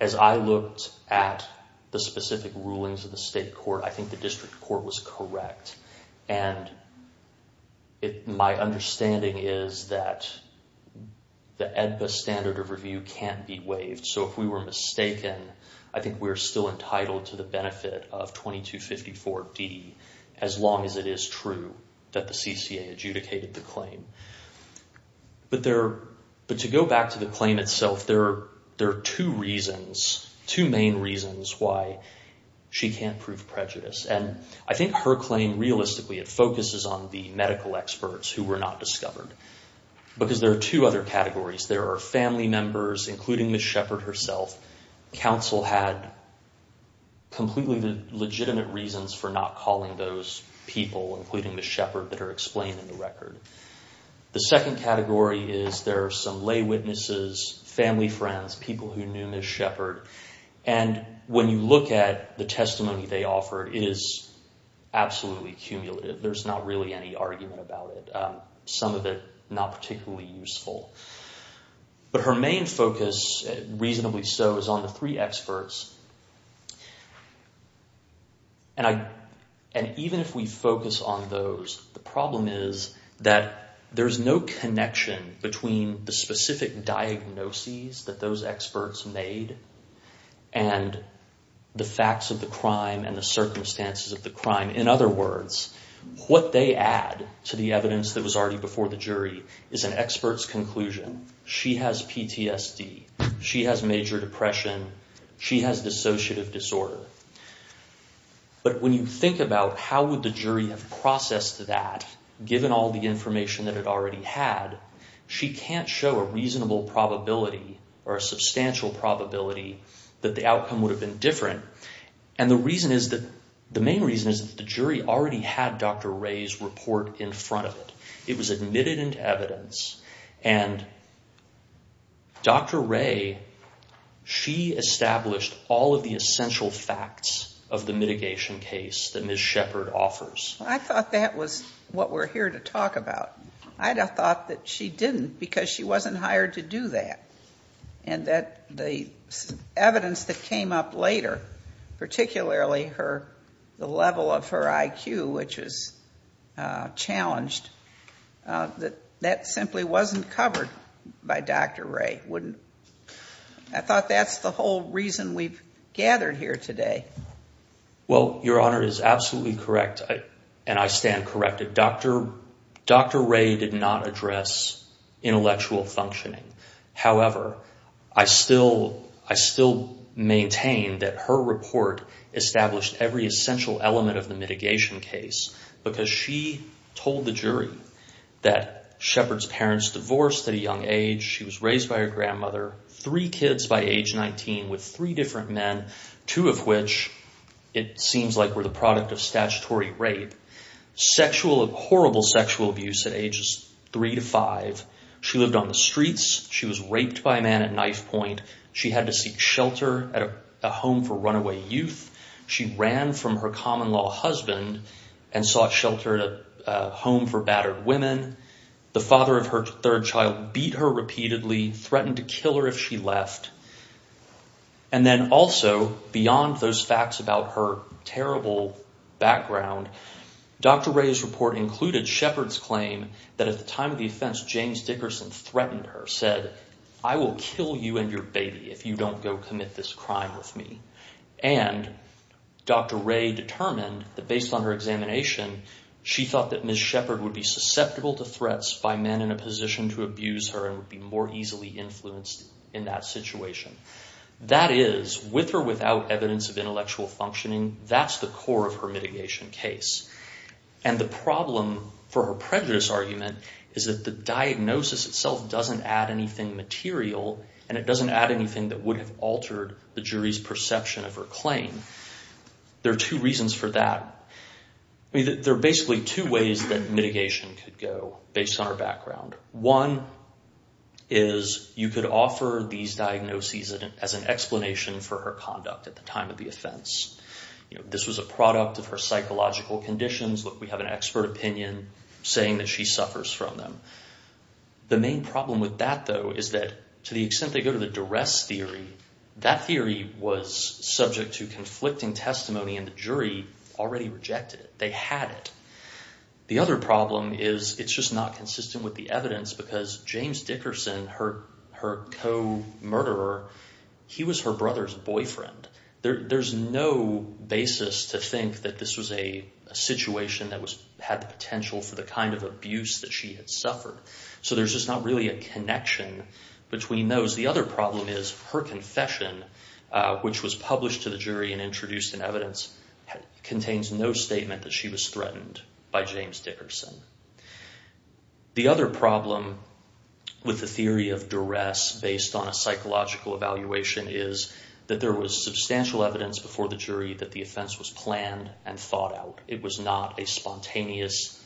As I looked at the specific rulings of the state court, I think the district court was correct. And my understanding is that the AEDPA standard of review can't be waived. So if we were mistaken, I think we're still entitled to the benefit of 2254D as long as it is true that the CCA adjudicated the claim. But to go back to the claim itself, there are two reasons, two main reasons why she can't prove prejudice. And I think her claim, realistically, it focuses on the medical experts who were not discovered. Because there are two other categories. There are family members, including Ms. Shepard herself. Counsel had completely legitimate reasons for not calling those people, including Ms. Shepard, that are explained in the record. The second category is there are some lay witnesses, family friends, people who knew Ms. Shepard. And when you look at the testimony they offered, it is absolutely cumulative. There's not really any argument about it. Some of it not particularly useful. But her main focus, reasonably so, is on the three experts. And even if we focus on those, the problem is that there's no connection between the specific diagnoses that those experts made and the facts of the crime and the circumstances of the crime. In other words, what they add to the evidence that was already before the jury is an expert's conclusion. She has PTSD. She has major depression. She has dissociative disorder. But when you think about how would the jury have processed that, given all the information that it already had, she can't show a reasonable probability or a substantial probability that the outcome would have been different. And the main reason is that the jury already had Dr. Ray's report in front of it. It was admitted into evidence. And Dr. Ray, she established all of the essential facts of the mitigation case that Ms. Shepard offers. I thought that was what we're here to talk about. I thought that she didn't because she wasn't hired to do that. And the evidence that came up later, particularly the level of her IQ, which is challenged, that that simply wasn't covered by Dr. Ray. I thought that's the whole reason we've gathered here today. Well, Your Honor is absolutely correct, and I stand corrected. Dr. Ray did not address intellectual functioning. However, I still maintain that her report established every essential element of the mitigation case because she told the jury that Shepard's parents divorced at a young age. She was raised by her grandmother, three kids by age 19 with three different men, two of which it seems like were the product of statutory rape, horrible sexual abuse at ages three to five. She lived on the streets. She was raped by a man at knife point. She had to seek shelter at a home for runaway youth. She ran from her common-law husband and sought shelter at a home for battered women. The father of her third child beat her repeatedly, threatened to kill her if she left. And then also, beyond those facts about her terrible background, Dr. Ray's report included Shepard's claim that at the time of the offense, James Dickerson threatened her, said, I will kill you and your baby if you don't go commit this crime with me. And Dr. Ray determined that based on her examination, she thought that Ms. Shepard would be susceptible to threats by men in a position to abuse her and would be more easily influenced in that situation. That is, with or without evidence of intellectual functioning, that's the core of her mitigation case. And the problem for her prejudice argument is that the diagnosis itself doesn't add anything material and it doesn't add anything that would have altered the jury's perception of her claim. There are two reasons for that. There are basically two ways that mitigation could go based on her background. One is you could offer these diagnoses as an explanation for her conduct at the time of the offense. This was a product of her psychological conditions. Look, we have an expert opinion saying that she suffers from them. The main problem with that, though, is that to the extent they go to the duress theory, that theory was subject to conflicting testimony and the jury already rejected it. They had it. The other problem is it's just not consistent with the evidence because James Dickerson, her co-murderer, he was her brother's boyfriend. There's no basis to think that this was a situation that had the potential for the kind of abuse that she had suffered. So there's just not really a connection between those. The other problem is her confession, which was published to the jury and introduced in evidence, contains no statement that she was threatened by James Dickerson. The other problem with the theory of duress based on a psychological evaluation is that there was substantial evidence before the jury that the offense was planned and thought out. It was not a spontaneous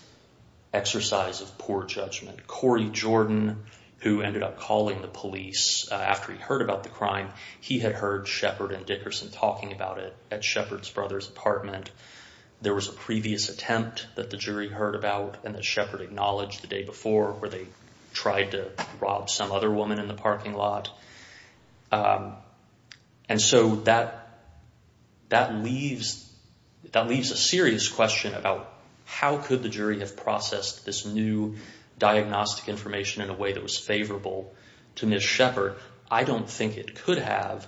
exercise of poor judgment. Corey Jordan, who ended up calling the police after he heard about the crime, he had heard Shepard and Dickerson talking about it at Shepard's brother's apartment. There was a previous attempt that the jury heard about and that Shepard acknowledged the day before where they tried to rob some other woman in the parking lot. And so that leaves a serious question about how could the jury have processed this new diagnostic information in a way that was favorable to Ms. Shepard. I don't think it could have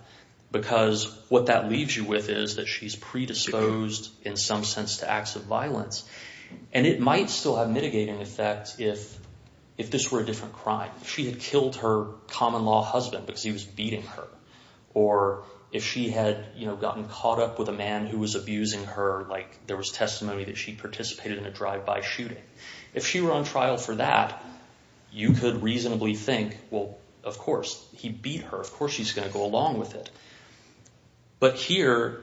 because what that leaves you with is that she's predisposed in some sense to acts of violence. And it might still have mitigating effects if this were a different crime. If she had killed her common law husband because he was beating her or if she had gotten caught up with a man who was abusing her, like there was testimony that she participated in a drive-by shooting. If she were on trial for that, you could reasonably think, well, of course, he beat her. Of course she's going to go along with it. But here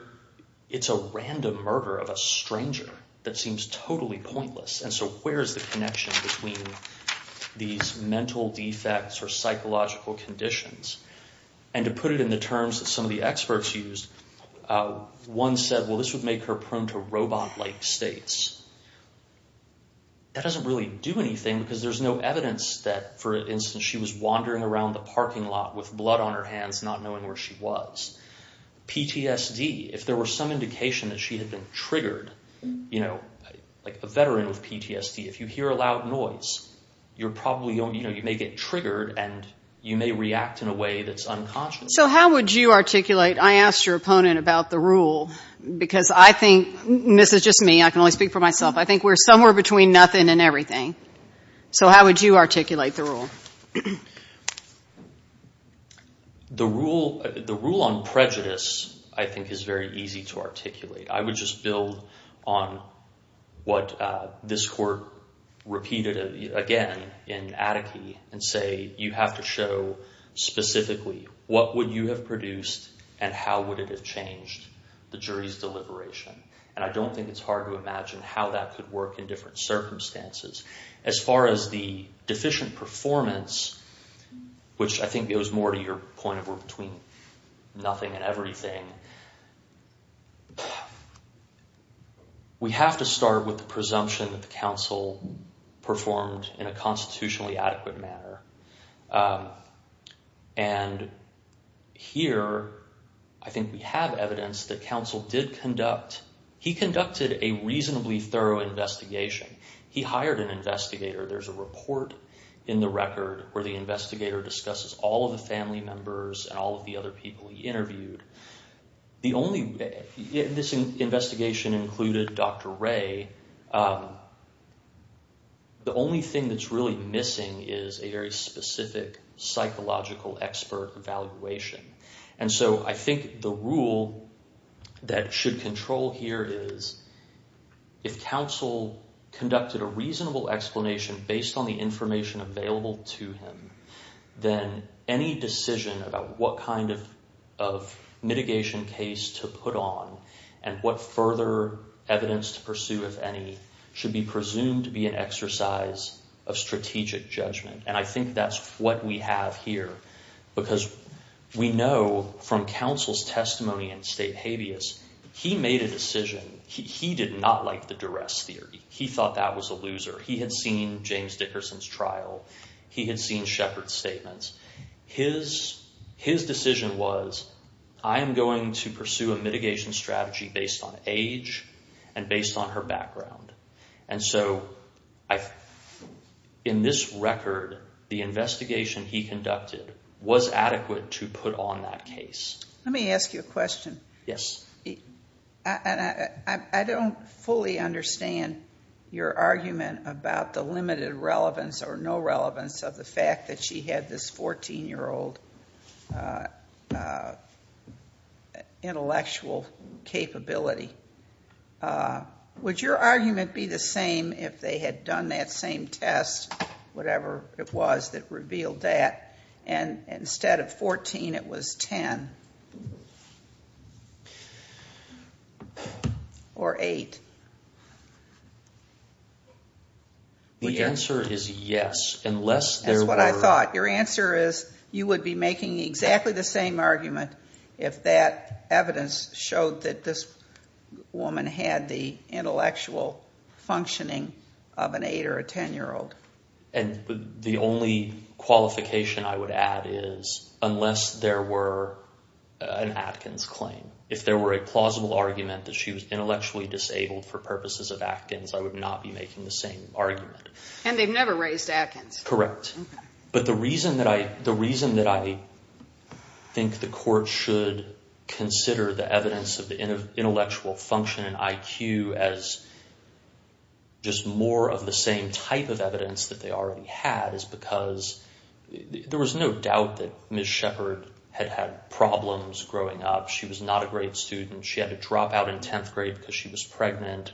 it's a random murder of a stranger that seems totally pointless. And so where is the connection between these mental defects or psychological conditions? And to put it in the terms that some of the experts used, one said, well, this would make her prone to robot-like states. That doesn't really do anything because there's no evidence that, for instance, she was wandering around the parking lot with blood on her hands not knowing where she was. PTSD, if there were some indication that she had been triggered, like a veteran with PTSD, if you hear a loud noise, you may get triggered and you may react in a way that's unconscious. So how would you articulate? I asked your opponent about the rule because I think, and this is just me, I can only speak for myself, I think we're somewhere between nothing and everything. So how would you articulate the rule? The rule on prejudice, I think, is very easy to articulate. I would just build on what this court repeated again in Attike and say you have to show specifically what would you have produced and how would it have changed the jury's deliberation. And I don't think it's hard to imagine how that could work in different circumstances. As far as the deficient performance, which I think goes more to your point of we're between nothing and everything, we have to start with the presumption that the counsel performed in a constitutionally adequate manner. And here I think we have evidence that counsel did conduct, he conducted a reasonably thorough investigation. He hired an investigator. There's a report in the record where the investigator discusses all of the family members and all of the other people he interviewed. This investigation included Dr. Ray. The only thing that's really missing is a very specific psychological expert evaluation. And so I think the rule that should control here is if counsel conducted a reasonable explanation based on the information available to him, then any decision about what kind of mitigation case to put on and what further evidence to pursue, if any, should be presumed to be an exercise of strategic judgment. And I think that's what we have here, because we know from counsel's testimony in State Habeas, he made a decision. He did not like the duress theory. He thought that was a loser. He had seen James Dickerson's trial. He had seen Shepard's statements. His decision was I am going to pursue a mitigation strategy based on age and based on her background. And so in this record, the investigation he conducted was adequate to put on that case. Let me ask you a question. Yes. I don't fully understand your argument about the limited relevance or no relevance of the fact that she had this 14-year-old intellectual capability. Would your argument be the same if they had done that same test, whatever it was that revealed that, and instead of 14, it was 10 or 8? The answer is yes, unless there were. That's what I thought. Your answer is you would be making exactly the same argument if that evidence showed that this woman had the intellectual functioning of an 8- or a 10-year-old. The only qualification I would add is unless there were an Atkins claim. If there were a plausible argument that she was intellectually disabled for purposes of Atkins, I would not be making the same argument. And they've never raised Atkins. Correct. But the reason that I think the court should consider the evidence of the evidence that they already had is because there was no doubt that Ms. Shepard had had problems growing up. She was not a great student. She had to drop out in 10th grade because she was pregnant.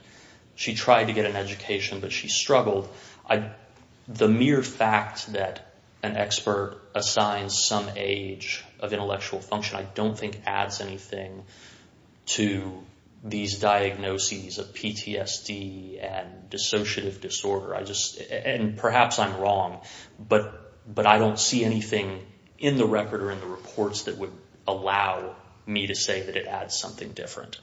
She tried to get an education, but she struggled. The mere fact that an expert assigns some age of intellectual function I don't think adds anything to these diagnoses of PTSD and dissociative disorder. And perhaps I'm wrong, but I don't see anything in the record or in the reports that would allow me to say that it adds something different.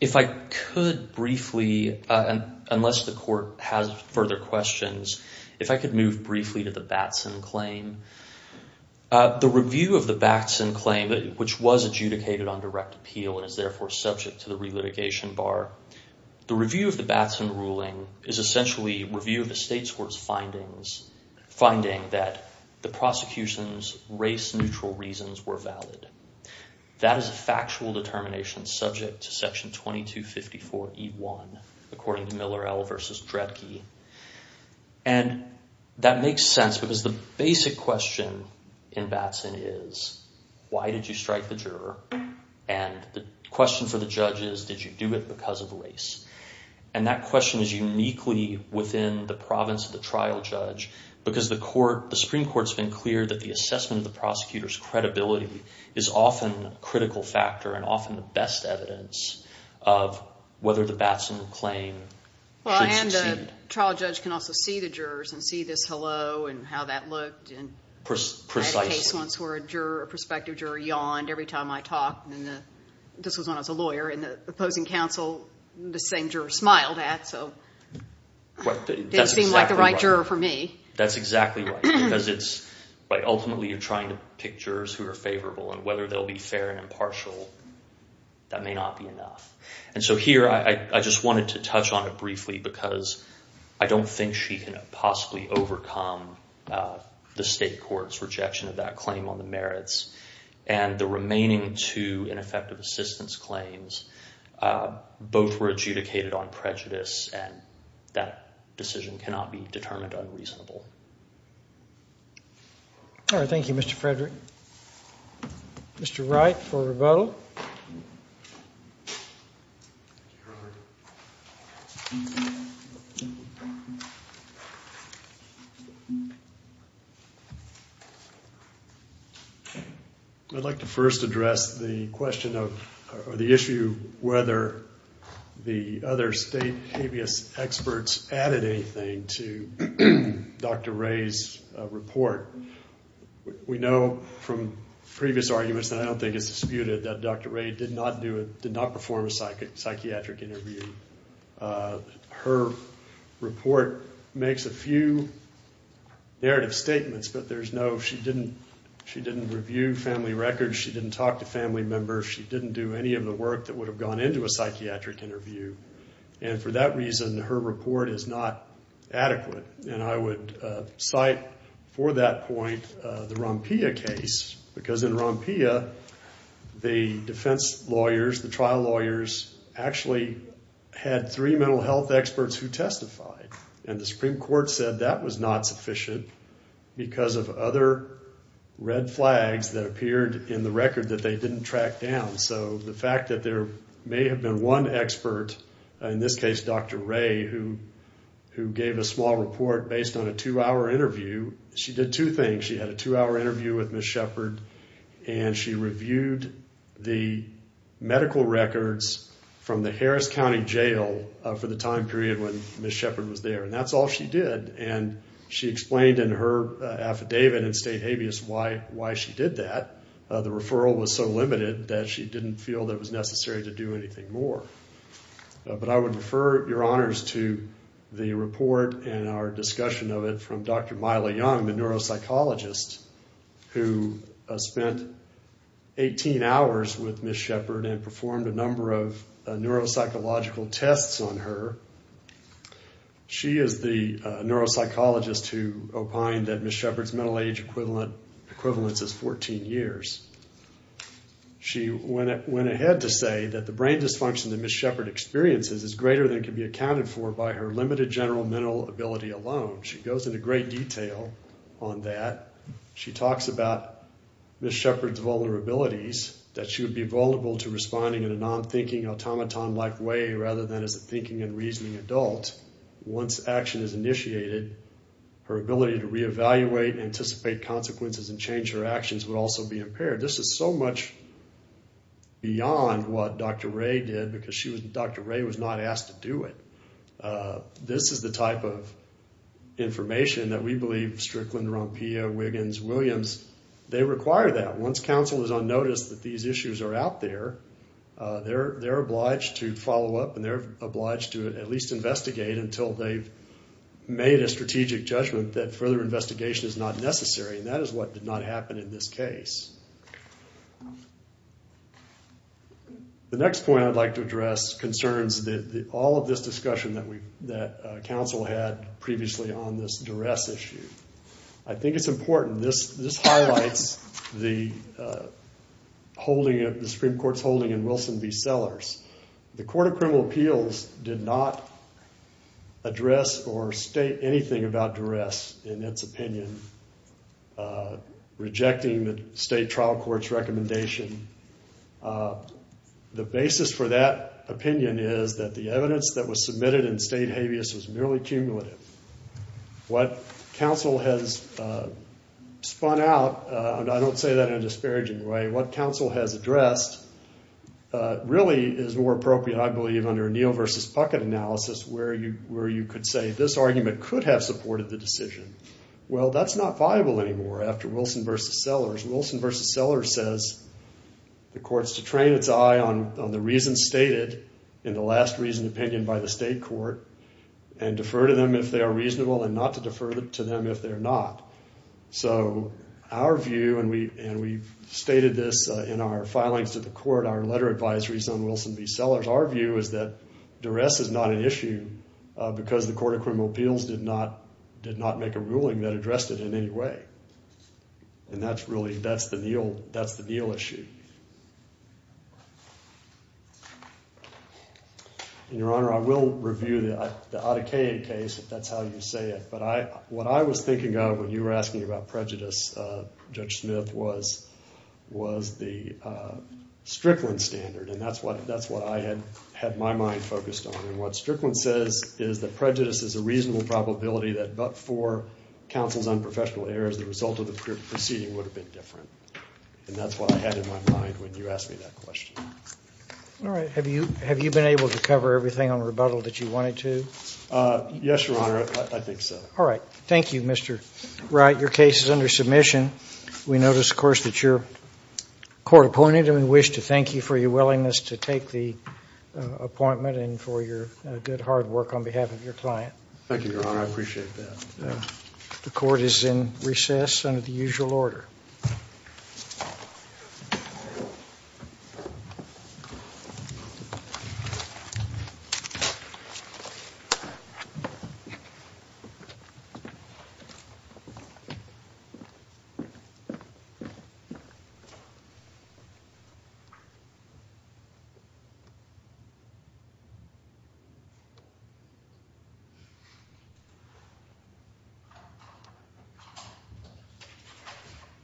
If I could briefly, unless the court has further questions, if I could move briefly to the Batson claim. The review of the Batson claim, which was adjudicated on direct appeal and is therefore subject to the relitigation bar. The review of the Batson ruling is essentially review of the state's court's findings, finding that the prosecution's race neutral reasons were valid. That is a factual determination subject to section 2254 E1, according to Miller L versus Dredke. And that makes sense because the basic question in Batson is, why did you strike the juror? And the question for the judge is, did you do it because of race? And that question is uniquely within the province of the trial judge because the Supreme Court's been clear that the assessment of the prosecutor's credibility is often a critical factor and often the best evidence of whether the Batson claim did succeed. Well, and the trial judge can also see the jurors and see this hello and how that looked. Precisely. I had a case once where a juror, a prospective juror, yawned every time I talked. And this was when I was a lawyer. And the opposing counsel, the same juror, smiled at. So it didn't seem like the right juror for me. That's exactly right because it's ultimately you're trying to pick jurors who are favorable. And whether they'll be fair and impartial, that may not be enough. And so here I just wanted to touch on it briefly because I don't think she can possibly overcome the state court's rejection of that claim on the merits. And the remaining two ineffective assistance claims, both were adjudicated on prejudice and that decision cannot be determined unreasonable. All right. Thank you, Mr. Frederick. Mr. Wright for rebuttal. Thank you, Your Honor. I'd like to first address the question of or the issue whether the other state habeas experts added anything to Dr. Ray's report. We know from previous arguments, and I don't think it's disputed, that Dr. Ray did not perform a psychiatric interview. Her report makes a few narrative statements, but there's no she didn't review family records. She didn't talk to family members. She didn't do any of the work that would have gone into a psychiatric interview. And for that reason, her report is not adequate. And I would cite for that point the Rompia case. Because in Rompia, the defense lawyers, the trial lawyers, actually had three mental health experts who testified. And the Supreme Court said that was not sufficient because of other red flags that appeared in the record that they didn't track down. So the fact that there may have been one expert, in this case Dr. Ray, who gave a small report based on a two-hour interview, she did two things. She had a two-hour interview with Ms. Shepard, and she reviewed the medical records from the Harris County Jail for the time period when Ms. Shepard was there. And that's all she did. And she explained in her affidavit in state habeas why she did that. The referral was so limited that she didn't feel it was necessary to do anything more. But I would refer your honors to the report and our discussion of it from Dr. Myla Young, the neuropsychologist, who spent 18 hours with Ms. Shepard and performed a number of neuropsychological tests on her. She is the neuropsychologist who opined that Ms. Shepard's mental age equivalence is 14 years. She went ahead to say that the brain dysfunction that Ms. Shepard experiences is greater than can be accounted for by her limited general mental ability alone. She goes into great detail on that. She talks about Ms. Shepard's vulnerabilities, that she would be vulnerable to responding in a non-thinking, automaton-like way rather than as a thinking and reasoning adult. Once action is initiated, her ability to reevaluate, anticipate consequences, and change her actions would also be impaired. This is so much beyond what Dr. Ray did because Dr. Ray was not asked to do it. This is the type of information that we believe Strickland, Rompea, Wiggins, Williams, they require that. Once counsel is on notice that these issues are out there, they're obliged to follow up and they're obliged to at least investigate until they've made a strategic judgment that further investigation is not necessary. That is what did not happen in this case. The next point I'd like to address concerns all of this discussion that counsel had previously on this duress issue. I think it's important. This highlights the Supreme Court's holding in Wilson v. Sellers. The Court of Criminal Appeals did not address or state anything about duress in its opinion, rejecting the state trial court's recommendation. The basis for that opinion is that the evidence that was submitted in state habeas was merely cumulative. What counsel has spun out, and I don't say that in a disparaging way, what counsel has addressed really is more appropriate, I believe, under Neal v. Puckett analysis where you could say this argument could have supported the decision. Well, that's not viable anymore after Wilson v. Sellers. Wilson v. Sellers says the court's to train its eye on the reasons stated in the last reasoned opinion by the state court and defer to them if they are reasonable and not to defer to them if they're not. So our view, and we've stated this in our filings to the court, our letter advisories on Wilson v. Sellers, our view is that duress is not an issue because the Court of Criminal Appeals did not make a ruling that addressed it in any way. And that's really the Neal issue. And, Your Honor, I will review the Adekaye case if that's how you say it, but what I was thinking of when you were asking about prejudice, Judge Smith, was the Strickland standard, and that's what I had my mind focused on. And what Strickland says is that prejudice is a reasonable probability that but for counsel's unprofessional errors, the result of the proceeding would have been different. And that's what I had in my mind when you asked me that question. All right. Have you been able to cover everything on rebuttal that you wanted to? Yes, Your Honor. I think so. All right. Thank you, Mr. Wright. Your case is under submission. We notice, of course, that you're court appointed, and we wish to thank you for your willingness to take the appointment and for your good, hard work on behalf of your client. Thank you, Your Honor. I appreciate that. The court is in recess under the usual order. Thank you.